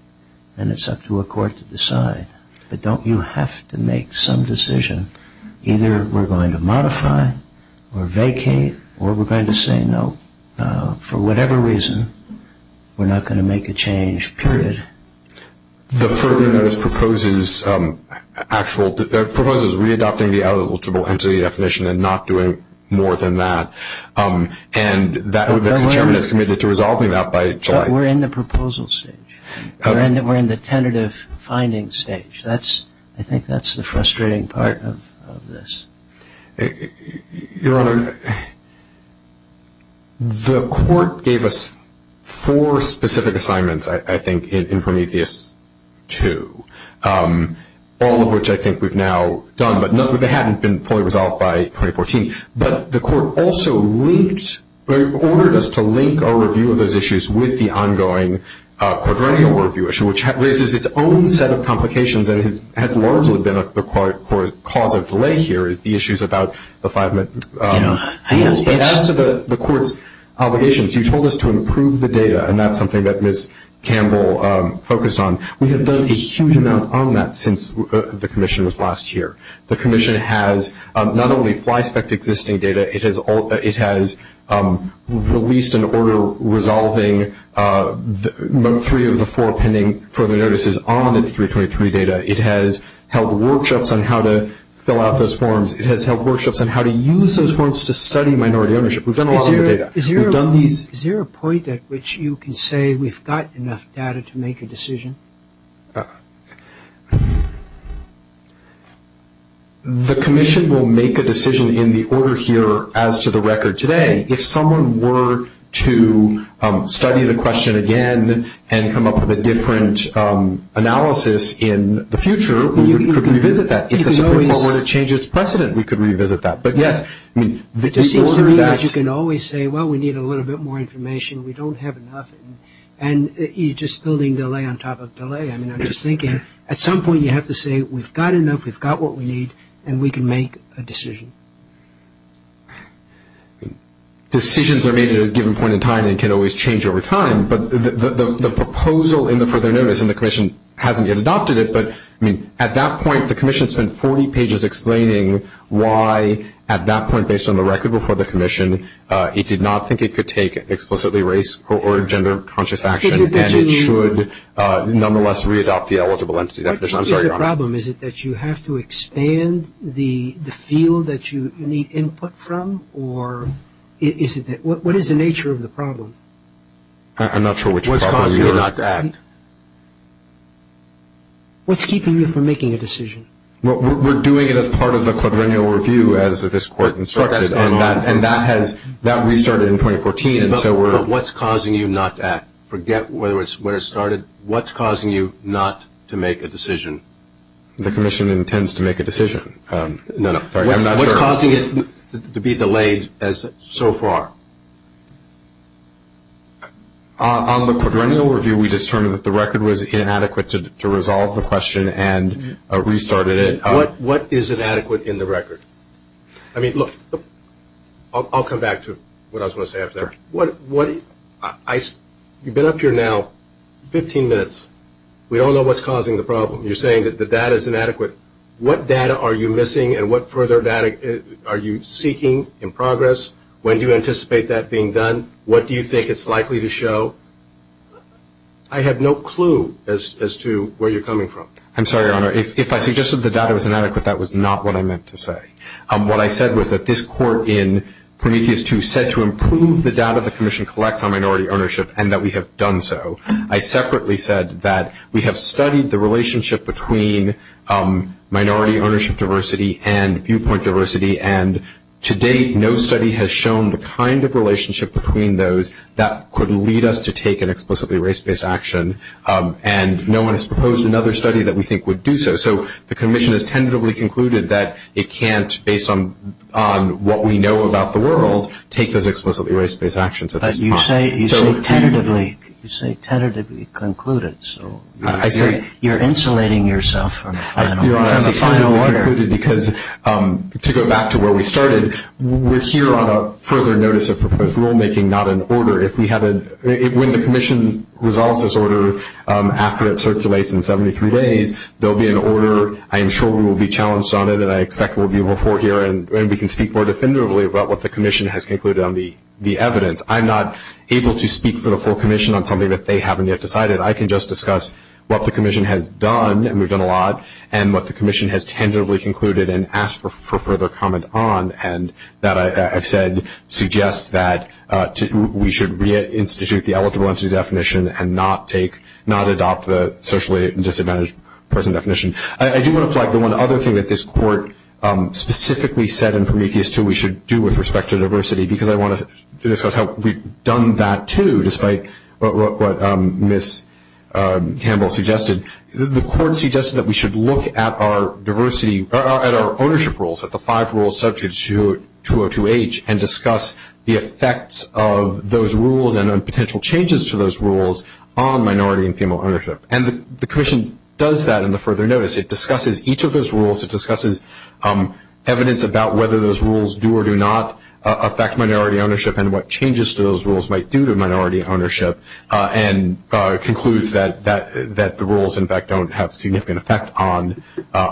and it's up to a court to decide. But don't you have to make some decision? Either we're going to modify or vacate, or we're going to say no. For whatever reason, we're not going to make a change, period. The program that is proposed is re-adopting the out-of-eligible-entity definition and not doing more than that, and the chairman is committed to resolving that by July. But we're in the proposal stage. We're in the tentative findings stage. I think that's the frustrating part of this. Your Honor, the court gave us four specific assignments, I think, in Prometheus II, all of which I think we've now done, but none of which hadn't been fully resolved by 2014. But the court also ordered us to link our review of those issues with the ongoing proverbial review issue, which raises its own set of complications, and has largely been a cause of delay here is the issues about the five minutes. As to the court's obligations, you told us to improve the data, and that's something that Ms. Campbell focused on. We have done a huge amount on that since the commission was last here. The commission has not only fly-spec'd existing data, it has released an order resolving note three of the four pending further notices on the 323 data. It has held workshops on how to fill out those forms. It has held workshops on how to use those forms to study minority ownership. We've done a lot of that data. Is there a point at which you can say we've got enough data to make a decision? The commission will make a decision in the order here as to the record today. If someone were to study the question again and come up with a different analysis in the future, we could revisit that. If the Supreme Court were to change its precedent, we could revisit that. It seems to me that you can always say, well, we need a little bit more information, we don't have enough, and you're just building delay on top of delay. I'm just thinking at some point you have to say we've got enough, we've got what we need, and we can make a decision. Decisions are made at a given point in time and can always change over time, but the proposal in the further notice and the commission hasn't yet adopted it, but at that point the commission spent 40 pages explaining why at that point, based on the record before the commission, it did not think it could take an explicitly race or gender conscious action and it should nonetheless readopt the eligible entity definition. What is the problem? Is it that you have to expand the field that you need input from? What is the nature of the problem? I'm not sure what you're talking about. What's causing you not to act? What's keeping you from making a decision? We're doing it as part of the quadrennial review as this court instructed, and that restarted in 2014. What's causing you not to act? Forget where it started. What's causing you not to make a decision? The commission intends to make a decision. What's causing it to be delayed so far? On the quadrennial review we determined that the record was inadequate to resolve the question and restarted it. What is inadequate in the record? I mean, look, I'll come back to what I was going to say after that. You've been up here now 15 minutes. We all know what's causing the problem. You're saying that the data is inadequate. What data are you missing and what further data are you seeking in progress? When do you anticipate that being done? What do you think it's likely to show? I have no clue as to where you're coming from. I'm sorry, Your Honor. If I suggested the data was inadequate, that was not what I meant to say. What I said was that this court in Prometheus II said to improve the data the commission collects on minority ownership and that we have done so. I separately said that we have studied the relationship between minority ownership diversity and viewpoint diversity and to date no study has shown the kind of relationship between those that could lead us to take an explicitly race-based action and no one has proposed another study that we think would do so. So the commission has tentatively concluded that it can't, based on what we know about the world, take those explicitly race-based actions at this time. You say tentatively. You say tentatively concluded. I agree. You're insulating yourself. Your Honor, to go back to where we started, we're here on a further notice of proposed rulemaking, not an order. When the commission resolves this order after it circulates in 73 days, there will be an order. I am sure we will be challenged on it and I expect there will be a report here and we can speak more definitively about what the commission has concluded on the evidence. I'm not able to speak for the full commission on something that they haven't yet decided. I can just discuss what the commission has done, and we've done a lot, and what the commission has tentatively concluded and asked for further comment on, and that I've said suggests that we should reinstitute the eligible entity definition and not adopt the socially disadvantaged person definition. I do want to flag the one other thing that this Court specifically said in Prometheus 2 that we should do with respect to diversity because I want to discuss how we've done that too, despite what Ms. Campbell suggested. The Court suggested that we should look at our diversity, at our ownership rules, at the five rules subject to 202H, and discuss the effects of those rules and potential changes to those rules on minority and female ownership. And the commission does that in the further notice. It discusses each of those rules. It discusses evidence about whether those rules do or do not affect minority ownership and what changes those rules might do to minority ownership and concludes that the rules, in fact, don't have significant effects on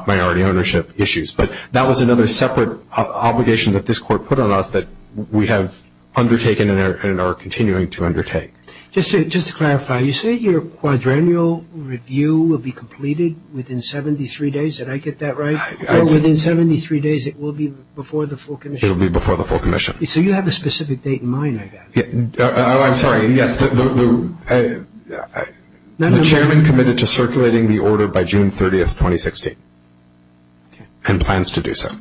minority ownership issues. But that was another separate obligation that this Court put on us that we have undertaken and are continuing to undertake. Just to clarify, you said your quadrennial review will be completed within 73 days. Did I get that right? Within 73 days it will be before the full commission. It will be before the full commission. So you have a specific date in mind, I guess. I'm sorry. The chairman committed to circulating the order by June 30, 2016 and plans to do so.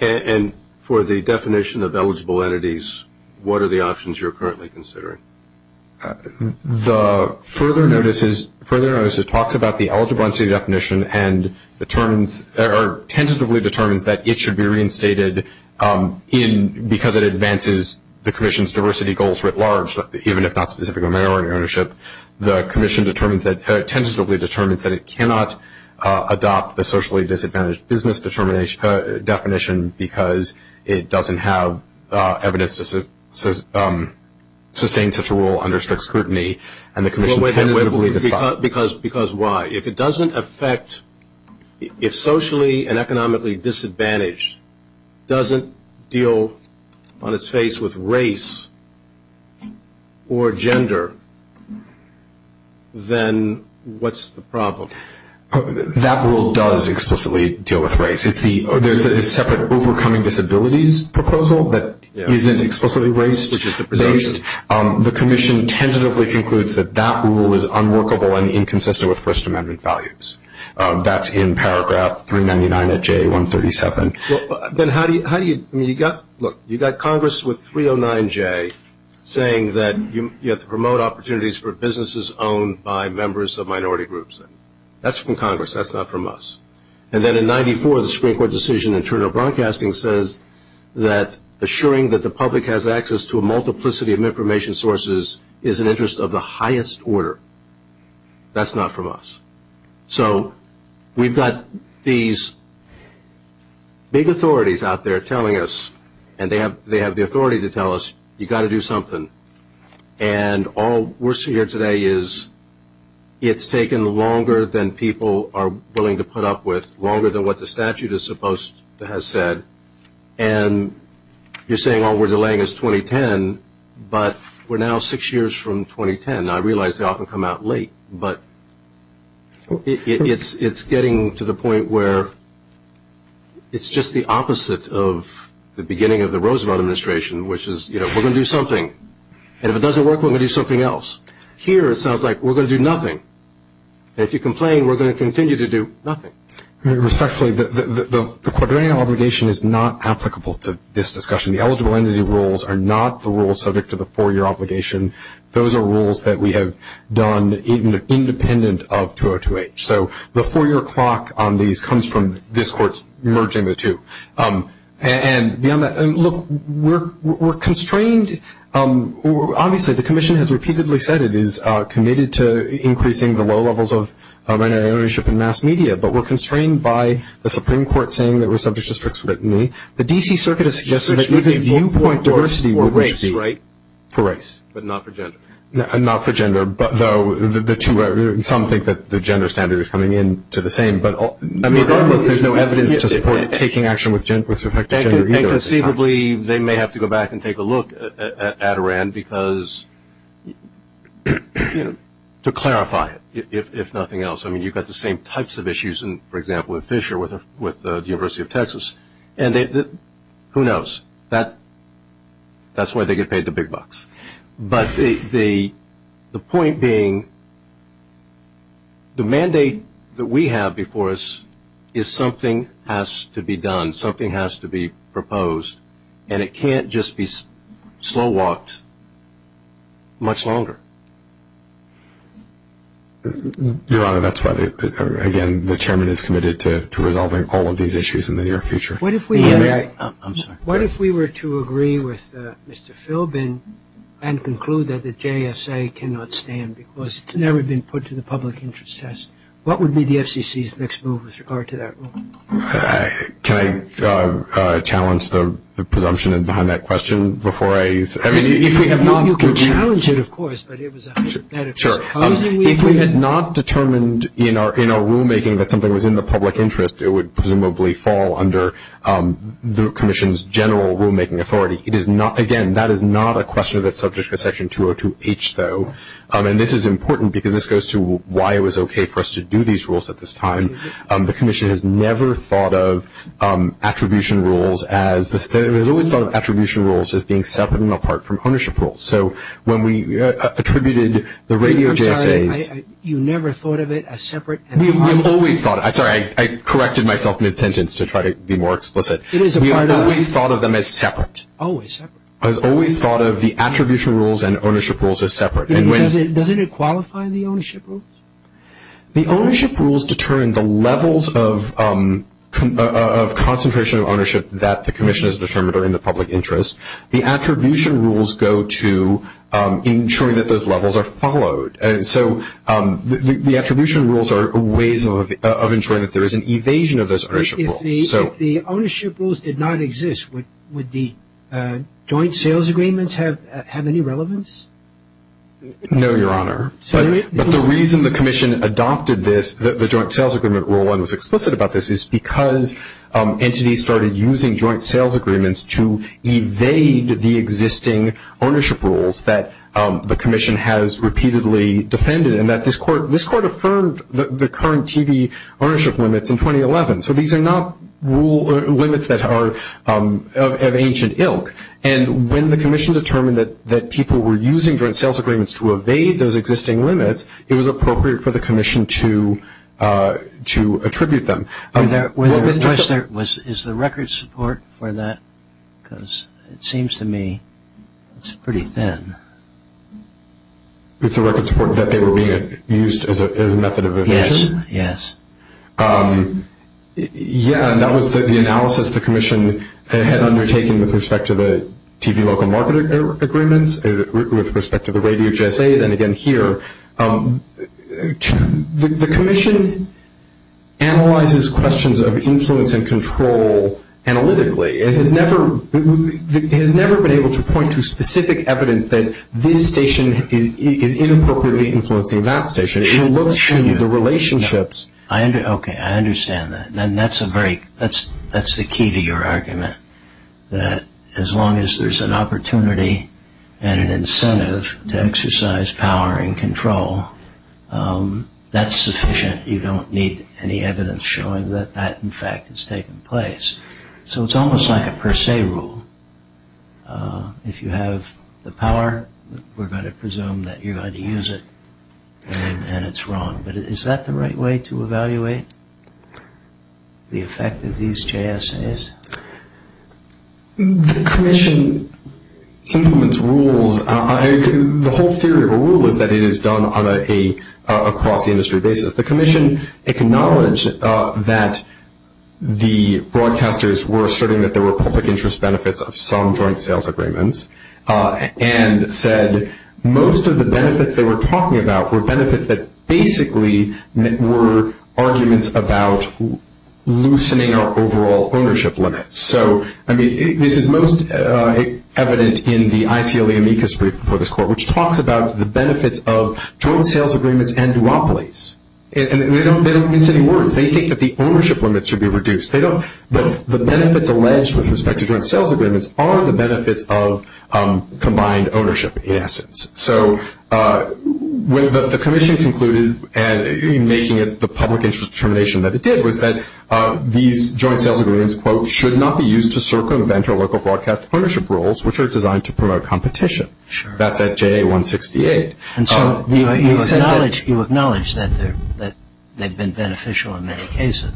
And for the definition of eligible entities, what are the options you're currently considering? The further notices talks about the eligibility definition and tentatively determines that it should be reinstated because it advances the commission's diversity goals writ large, even if not specific to minority ownership. The commission tentatively determines that it cannot adopt the socially disadvantaged business definition because it doesn't have evidence to sustain such a rule under such scrutiny. Because why? If it doesn't affect, if socially and economically disadvantaged doesn't deal on its face with race or gender, then what's the problem? That rule does explicitly deal with race. There's a separate overcoming disabilities proposal that isn't explicitly race. The commission tentatively concludes that that rule is unworkable and inconsistent with First Amendment values. That's in paragraph 399 of J137. But how do you, I mean, you got, look, you got Congress with 309J saying that you have to promote opportunities for businesses owned by members of minority groups. That's from Congress. That's not from us. And then in 94, the Supreme Court decision in terms of broadcasting says that assuring that the public has access to a multiplicity of information sources is in the interest of the highest order. That's not from us. So we've got these big authorities out there telling us, and they have the authority to tell us, you got to do something. And all we're seeing here today is it's taken longer than people are willing to put up with, longer than what the statute is supposed to have said. And you're saying, oh, we're delaying this 2010, but we're now six years from 2010. I realize they often come out late, but it's getting to the point where it's just the opposite of the beginning of the Roosevelt Administration, which is, you know, we're going to do something. And if it doesn't work, we're going to do something else. Here it sounds like we're going to do nothing. And if you complain, we're going to continue to do nothing. Respectfully, the quadrillion obligation is not applicable to this discussion. The eligible entity rules are not the rules subject to the four-year obligation. Those are rules that we have done independent of 202H. So the four-year clock on these comes from this Court's merging the two. And beyond that, look, we're constrained. Obviously, the Commission has repeatedly said it is committed to increasing the low levels of minority ownership in mass media, but we're constrained by the Supreme Court saying that we're subject to strict scrutiny. The D.C. Circuit has suggested that even one point diversity would be right for race. But not for gender. And not for gender, but though the two are – some think that the gender standard is coming in to the same. I mean, there's no evidence to support taking action with respect to gender. And conceivably, they may have to go back and take a look at ADORAN because – to clarify it, if nothing else. I mean, you've got the same types of issues, for example, with Fisher, with the University of Texas. And who knows? That's why they get paid the big bucks. But the point being, the mandate that we have before us is something has to be done. Something has to be proposed. And it can't just be slow-walked much longer. Your Honor, that's about it. Again, the Chairman is committed to resolving all of these issues in the near future. I'm sorry. What if we were to agree with Mr. Philbin and conclude that the JSA cannot stand because it's never been put to the public interest test? What would be the FCC's next move with regard to that rule? Can I challenge the presumption behind that question before I – You can challenge it, of course, but it was a hypothetical. Sure. If we had not determined in our rulemaking that something was in the public interest, it would presumably fall under the Commission's general rulemaking authority. It is not – again, that is not a question that's subject to Section 202H, though. And this is important because this goes to why it was okay for us to do these rules at this time. The Commission has never thought of attribution rules as – they've always thought of attribution rules as being separate and apart from ownership rules. So when we attributed the radio JSAs – I'm sorry. You never thought of it as separate and apart? We've always thought – I'm sorry. I corrected myself in a sentence to try to be more explicit. It is a part of – We've always thought of them as separate. Always separate. I've always thought of the attribution rules and ownership rules as separate. Doesn't it qualify the ownership rules? The ownership rules determine the levels of concentration of ownership that the Commission has determined are in the public interest. The attribution rules go to ensuring that those levels are followed. And so the attribution rules are ways of ensuring that there is an evasion of those ownership rules. If the ownership rules did not exist, would the joint sales agreements have any relevance? No, Your Honor. But the reason the Commission adopted this, the joint sales agreement rule, is because entities started using joint sales agreements to evade the existing ownership rules that the Commission has repeatedly defended, and that this Court affirmed the current TV ownership limits in 2011. So these are not limits that are of ancient ilk. And when the Commission determined that people were using joint sales agreements to evade those existing limits, it was appropriate for the Commission to attribute them. Is the record support for that? Because it seems to me it's pretty thin. It's the record support that they were being used as a method of evasion? Yes, yes. Yeah, and that was the analysis the Commission had undertaken with respect to the TV local market agreements, with respect to the radio GSA, then again here. The Commission analyzes questions of influence and control analytically and has never been able to point to specific evidence that this station is inappropriately influencing that station. It looks at the relationships. Okay, I understand that. That's the key to your argument, that as long as there's an opportunity and an incentive to exercise power and control, that's sufficient. You don't need any evidence showing that that, in fact, is taking place. So it's almost like a per se rule. If you have the power, we're going to presume that you're going to use it, and it's wrong. But is that the right way to evaluate the effect of these GSAs? The Commission implements rules. The whole theory of a rule is that it is done on a cross-industry basis. The Commission acknowledged that the broadcasters were asserting that there were public interest benefits of some joint sales agreements and said most of the benefits they were talking about were benefits that basically were arguments about loosening our overall ownership limits. So, I mean, this is most evident in the ICLAM ecosystem for this court, which talks about the benefits of joint sales agreements and duopolies. And they don't use any words. They think that the ownership limits should be reduced. The benefits alleged with respect to joint sales agreements are the benefits of combined ownership, in essence. So what the Commission concluded, and making it the public interest determination that it did, was that these joint sales agreements, quote, should not be used to circumvent our local broadcast ownership rules, which are designed to promote competition. Sure. That's at JA-168. And so you acknowledge that they've been beneficial in many cases.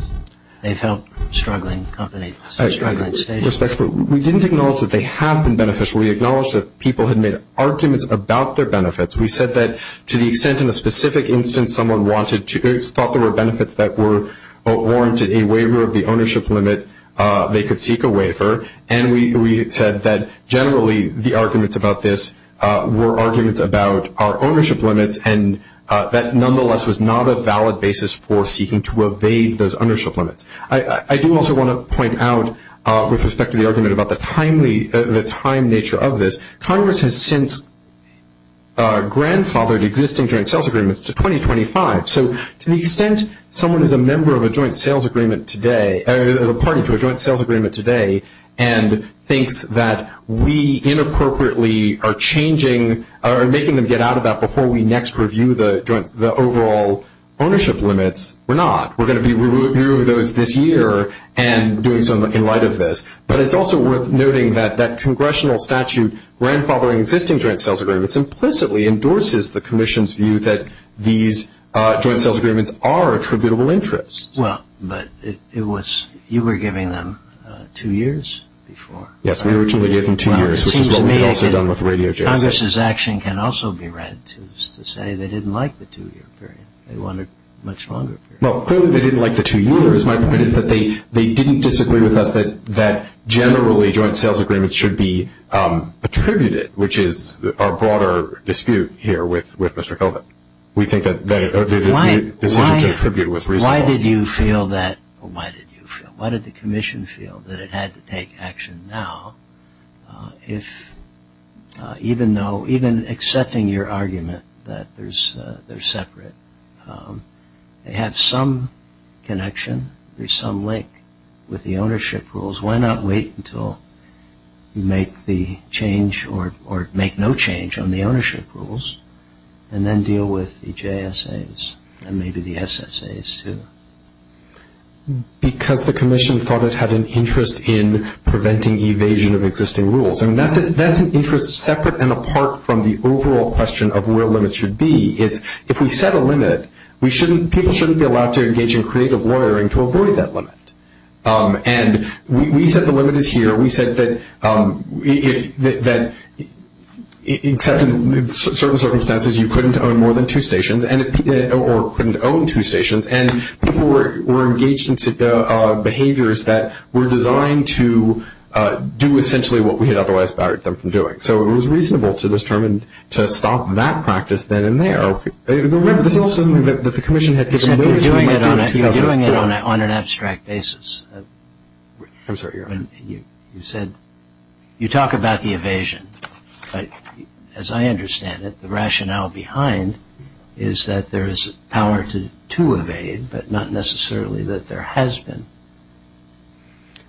They've helped struggling companies. We didn't acknowledge that they have been beneficial. We acknowledged that people had made arguments about their benefits. We said that to the extent in a specific instance someone wanted to, they thought there were benefits that were warranted a waiver of the ownership limit, they could seek a waiver. And we said that generally the arguments about this were arguments about our ownership limits, and that nonetheless was not a valid basis for seeking to evade those ownership limits. I do also want to point out, with respect to the argument about the time nature of this, Congress has since grandfathered existing joint sales agreements to 2025. So to the extent someone is a member of a joint sales agreement today, or a partner to a joint sales agreement today, and think that we inappropriately are making them get out of that before we next review the overall ownership limits, we're not. We're going to be reviewing those this year and doing something in light of this. But it's also worth noting that that congressional statute grandfathering existing joint sales agreements implicitly endorses the Commission's view that these joint sales agreements are attributable interests. Well, but you were giving them two years before. Yes, we originally gave them two years, which is what we've also done with radio jams. Congress's action can also be read to say they didn't like the two-year period. They wanted a much longer period. Well, clearly they didn't like the two years. My point is that they didn't disagree with us that generally joint sales agreements should be attributed, which is our broader dispute here with Mr. Colvin. Why did you feel that? Why did you feel? Why did the Commission feel that it had to take action now, even accepting your argument that they're separate? They have some connection, there's some link with the ownership rules. Why not wait until you make the change or make no change on the ownership rules and then deal with the JSAs and maybe the SSAs too? Because the Commission thought it had an interest in preventing evasion of existing rules. That's an interest separate and apart from the overall question of where limits should be. If we set a limit, people shouldn't be allowed to engage in creative lawyering to avoid that limit. And we set the limit here. We said that in certain circumstances you couldn't own more than two stations or couldn't own two stations and people were engaged in behaviors that were designed to do essentially what we had otherwise barred them from doing. So it was reasonable to stop that practice then and there. There's also something that the Commission had to do. You're doing it on an abstract basis. I'm sorry. You said you talk about the evasion. As I understand it, the rationale behind is that there is power to evade, but not necessarily that there has been.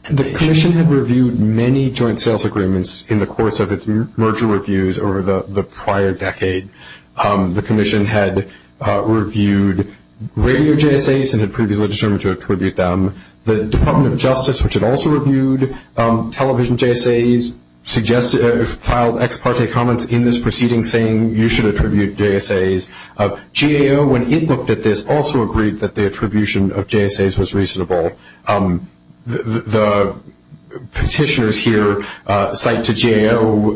The Commission had reviewed many joint sales agreements in the course of its merger reviews over the prior decade. The Commission had reviewed radio JSAs and had previously determined to attribute them. The Department of Justice, which had also reviewed television JSAs, suggested or filed ex parte comments in this proceeding saying you should attribute JSAs. GAO, when it looked at this, also agreed that the attribution of JSAs was reasonable. The petitioners here cite to GAO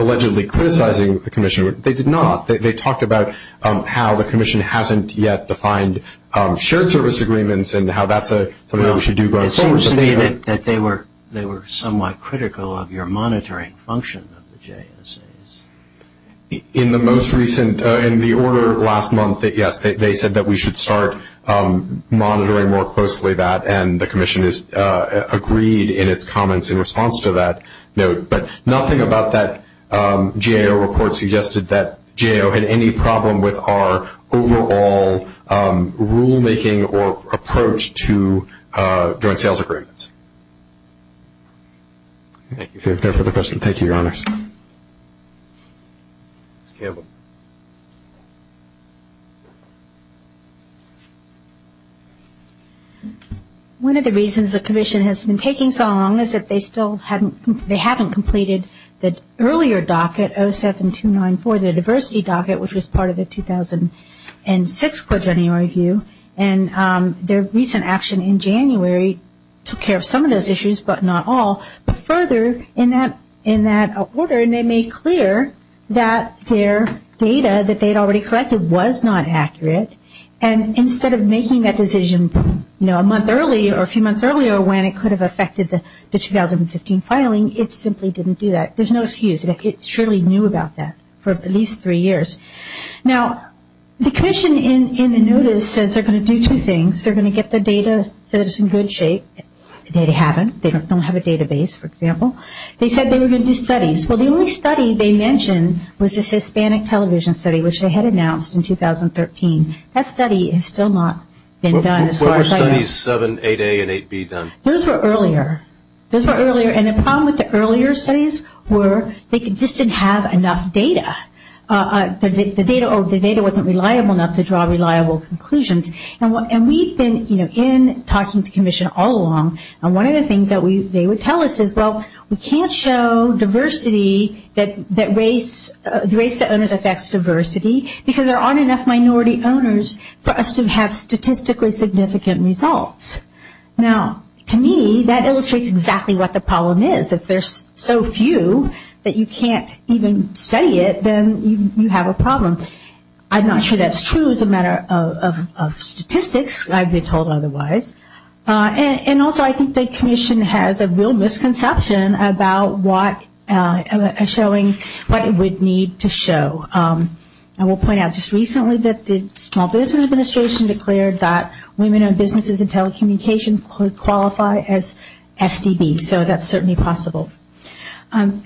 allegedly criticizing the Commission. They did not. They talked about how the Commission hasn't yet defined shared service agreements and how that's something we should do going forward. It seems to me that they were somewhat critical of your monitoring function of the JSAs. In the most recent, in the order last month, yes, they said that we should start monitoring more closely that, and the Commission has agreed in its comments in response to that note. But nothing about that GAO report suggested that GAO had any problem with our overall rulemaking or approach to joint sales agreements. Thank you for the question. Thank you, Your Honors. One of the reasons the Commission has been taking so long is that they still haven't, they haven't completed the earlier docket, 07294, the diversity docket, which was part of the 2006 Quaternary Review, and their recent action in January took care of some of those issues, but not all. But further, in that order, they made clear that their data that they had already collected was not accurate, and instead of making that decision a month early or a few months earlier when it could have affected the 2015 filing, it simply didn't do that. There's no excuse. It surely knew about that for at least three years. Now, the Commission in the notice says they're going to do two things. They're going to get the data that is in good shape. They haven't. They don't have a database, for example. They said they were going to do studies. Well, the only study they mentioned was this Hispanic television study, which they had announced in 2013. That study has still not been done. What were studies 7a, 8a, and 8b then? Those were earlier. Those were earlier, and the problem with the earlier studies were they just didn't have enough data. The data wasn't reliable enough to draw reliable conclusions, and we've been, you know, in talking to the Commission all along, and one of the things that they would tell us is, well, we can't show diversity that race to owners affects diversity because there aren't enough minority owners for us to have statistically significant results. Now, to me, that illustrates exactly what the problem is. If there's so few that you can't even say it, then you have a problem. I'm not sure that's true as a matter of statistics. I'd be told otherwise. And also, I think the Commission has a real misconception about what a showing, what it would need to show. I will point out just recently that the Small Business Administration declared that women-owned businesses in telecommunications could qualify as FDB, so that's certainly possible.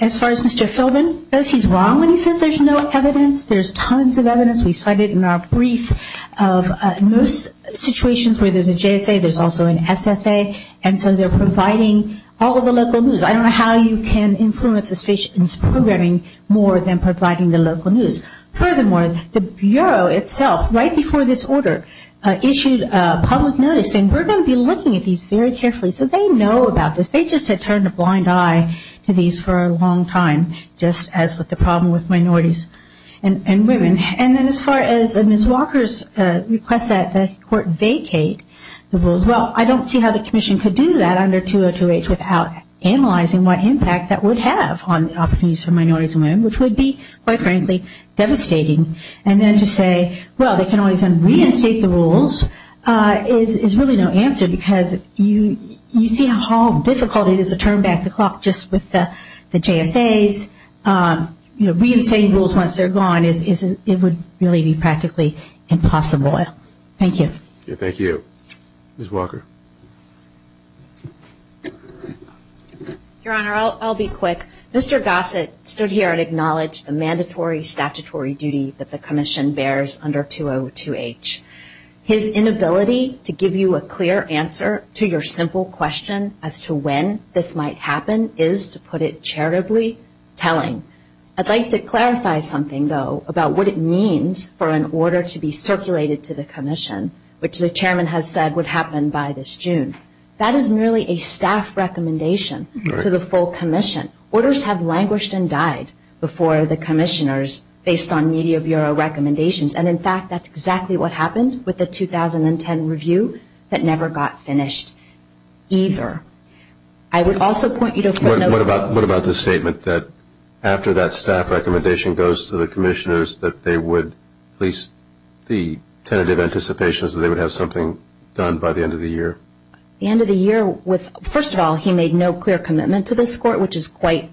As far as Mr. Philbin, I don't think he's wrong when he says there's no evidence. There's tons of evidence. We cited in our brief of nurse situations where there's a JSA, there's also an SSA, and so they're providing all of the local news. I don't know how you can influence a patient's programming more than providing the local news. Furthermore, the Bureau itself, right before this order, issued a public notice saying, we're going to be looking at these very carefully so they know about this. They just had turned a blind eye to these for a long time, just as with the problem with minorities and women. And then as far as Ms. Walker's request that the court vacate the rules, well, I don't see how the Commission could do that under 202H without analyzing what impact that would have on opportunities for minorities and women, which would be, quite frankly, devastating. And then to say, well, they can always reinstate the rules, is really no answer because you see how difficult it is to turn back the clock just with the JSAs. Reinstating rules once they're gone, it would really be practically impossible. Thank you. Thank you. Ms. Walker. Your Honor, I'll be quick. Mr. Gossett stood here and acknowledged the mandatory statutory duty that the Commission bears under 202H. His inability to give you a clear answer to your simple question as to when this might happen is, to put it charitably, telling. I'd like to clarify something, though, about what it means for an order to be circulated to the Commission, which the Chairman has said would happen by this June. That is merely a staff recommendation to the full Commission. Orders have languished and died before the Commissioners, based on media bureau recommendations. And, in fact, that's exactly what happened with the 2010 review that never got finished either. I would also point you to the note. What about the statement that after that staff recommendation goes to the Commissioners, that they would at least be tentative anticipations that they would have something done by the end of the year? The end of the year, first of all, he made no clear commitment to this Court, which is quite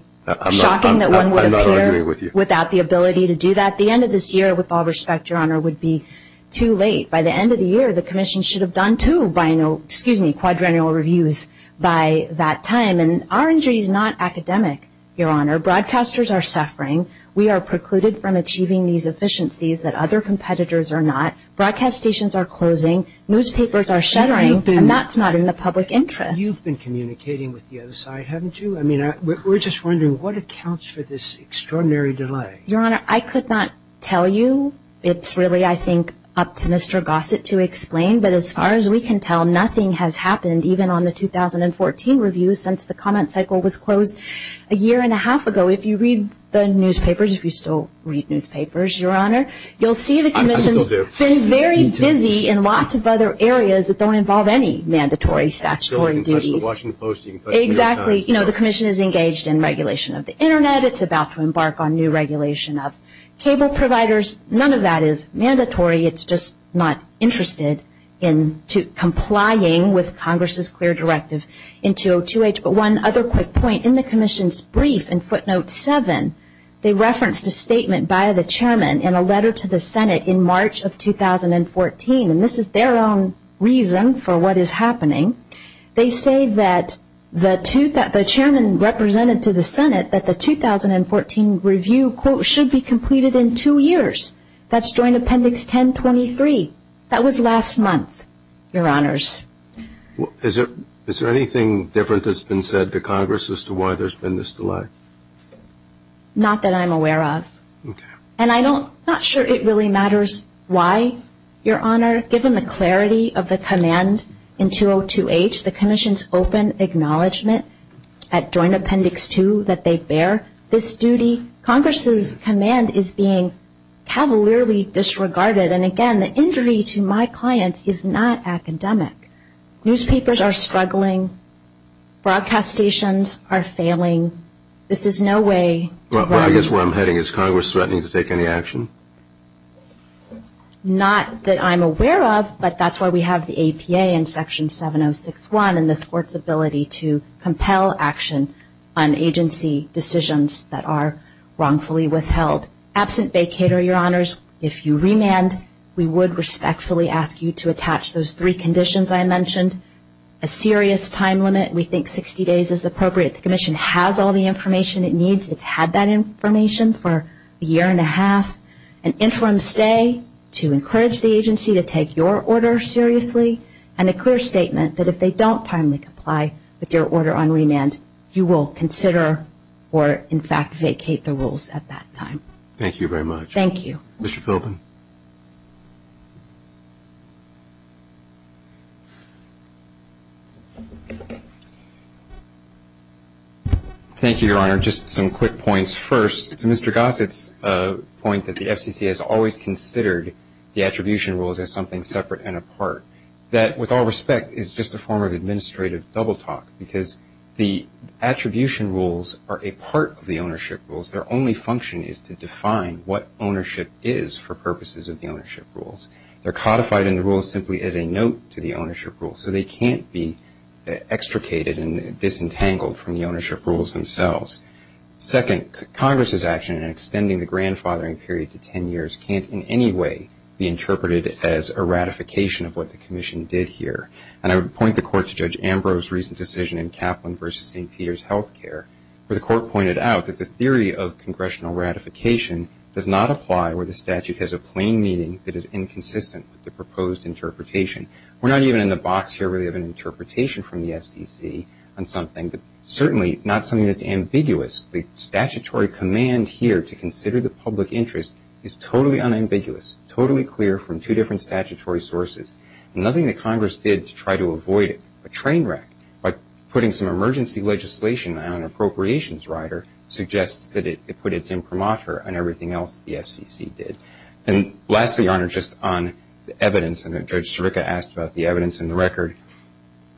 shocking that one would appear without the ability to do that. The end of this year, with all respect, Your Honor, would be too late. By the end of the year, the Commission should have done two quadrennial reviews by that time. And our injury is not academic, Your Honor. Broadcasters are suffering. We are precluded from achieving these efficiencies that other competitors are not. Broadcast stations are closing. Newspapers are shattering. And that's not in the public interest. You've been communicating with the other side, haven't you? I mean, we're just wondering what accounts for this extraordinary delay. Your Honor, I could not tell you. It's really, I think, up to Mr. Gossett to explain. But as far as we can tell, nothing has happened, even on the 2014 review, since the comment cycle was closed a year and a half ago. If you read the newspapers, if you still read newspapers, Your Honor, you'll see the Commission has been very busy in lots of other areas that don't involve any mandatory statutory duty. Exactly. You know, the Commission is engaged in regulation of the Internet. It's about to embark on new regulation of cable providers. None of that is mandatory. It's just not interested in complying with Congress's clear directive in 202H. One other quick point. In the Commission's brief in footnote 7, they referenced a statement by the Chairman in a letter to the Senate in March of 2014. And this is their own reason for what is happening. They say that the Chairman represented to the Senate that the 2014 review, quote, should be completed in two years. That's during Appendix 1023. That was last month, Your Honors. Is there anything different that's been said to Congress as to why there's been this delay? Not that I'm aware of. Okay. And I'm not sure it really matters why, Your Honor. Given the clarity of the command in 202H, the Commission's open acknowledgement at Joint Appendix 2 that they bear this duty, Congress's command is being cavalierly disregarded. And, again, the injury to my clients is not academic. Newspapers are struggling. Broadcast stations are failing. This is no way to- Well, I guess where I'm heading is Congress threatening to take any action? Not that I'm aware of. But that's why we have the APA in Section 706.1 and the Court's ability to compel action on agency decisions that are wrongfully withheld. Absent vacator, Your Honors, if you remand, we would respectfully ask you to attach those three conditions I mentioned. A serious time limit. We think 60 days is appropriate. The Commission has all the information it needs. It's had that information for a year and a half. An interim stay to encourage the agency to take your order seriously. And a clear statement that if they don't timely comply with your order on remand, you will consider or, in fact, vacate the rules at that time. Thank you very much. Thank you. Mr. Philbin? Thank you, Your Honor. Just some quick points first. Mr. Gossett's point that the FCC has always considered the attribution rules as something separate and apart. That, with all respect, is just a form of administrative double talk because the attribution rules are a part of the ownership rules. Their only function is to define what ownership is for purposes of the ownership rules. They're codified in the rules simply as a note to the ownership rules. So they can't be extricated and disentangled from the ownership rules themselves. Second, Congress's action in extending the grandfathering period to 10 years can't in any way be interpreted as a ratification of what the Commission did here. And I would point the Court to Judge Ambrose's recent decision in Kaplan v. St. Peter's Health Care, where the Court pointed out that the theory of congressional ratification does not apply where the statute has a plain meaning that is inconsistent with the proposed interpretation. We're not even in the box here really of an interpretation from the FCC on something, but certainly not something that's ambiguous. The statutory command here to consider the public interest is totally unambiguous, totally clear from two different statutory sources. Nothing that Congress did to try to avoid it, a train wreck, but putting some emergency legislation on an appropriations rider suggests that it put its imprimatur on everything else the FCC did. And lastly, Your Honor, just on the evidence, and then Judge Sirica asked about the evidence in the record,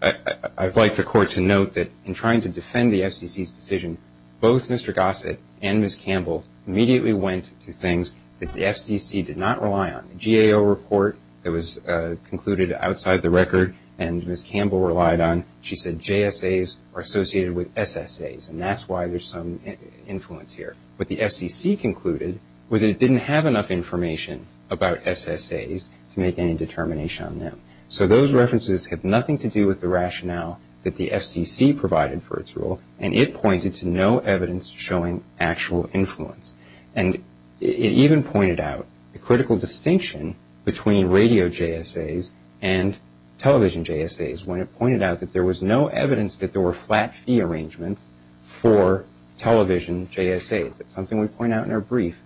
I'd like the Court to note that in trying to defend the FCC's decision, both Mr. Gossett and Ms. Campbell immediately went to things that the FCC did not rely on. The GAO report that was concluded outside the record and Ms. Campbell relied on, she said JSAs are associated with SSAs, and that's why there's some influence here. What the FCC concluded was that it didn't have enough information about SSAs to make any determination on them. So those references have nothing to do with the rationale that the FCC provided for its rule, and it pointed to no evidence showing actual influence. And it even pointed out the critical distinction between radio JSAs and television JSAs when it pointed out that there was no evidence that there were flat fee arrangements for television JSAs. That's something we point out in our brief.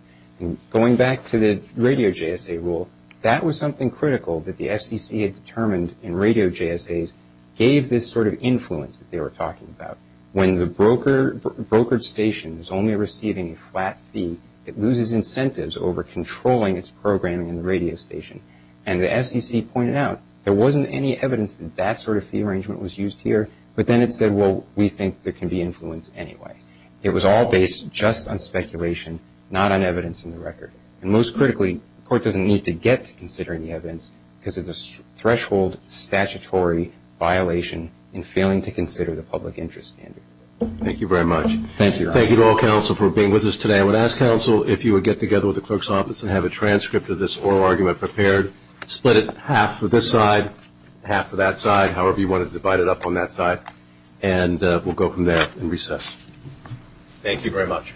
Going back to the radio JSA rule, that was something critical that the FCC had determined in radio JSAs gave this sort of influence that they were talking about. When the brokered station is only receiving a flat fee, it loses incentives over controlling its programming in the radio station. And the SEC pointed out there wasn't any evidence that that sort of fee arrangement was used here, but then it said, well, we think there can be influence anyway. It was all based just on speculation, not on evidence in the record. And most critically, the court doesn't need to get to considering the evidence because it's a threshold statutory violation in failing to consider the public interest standard. Thank you very much. Thank you. Thank you to all counsel for being with us today. I would ask counsel if you would get together with the clerk's office and have a transcript of this oral argument prepared. Split it half for this side, half for that side, however you wanted to divide it up on that side. And we'll go from there and recess. Thank you very much.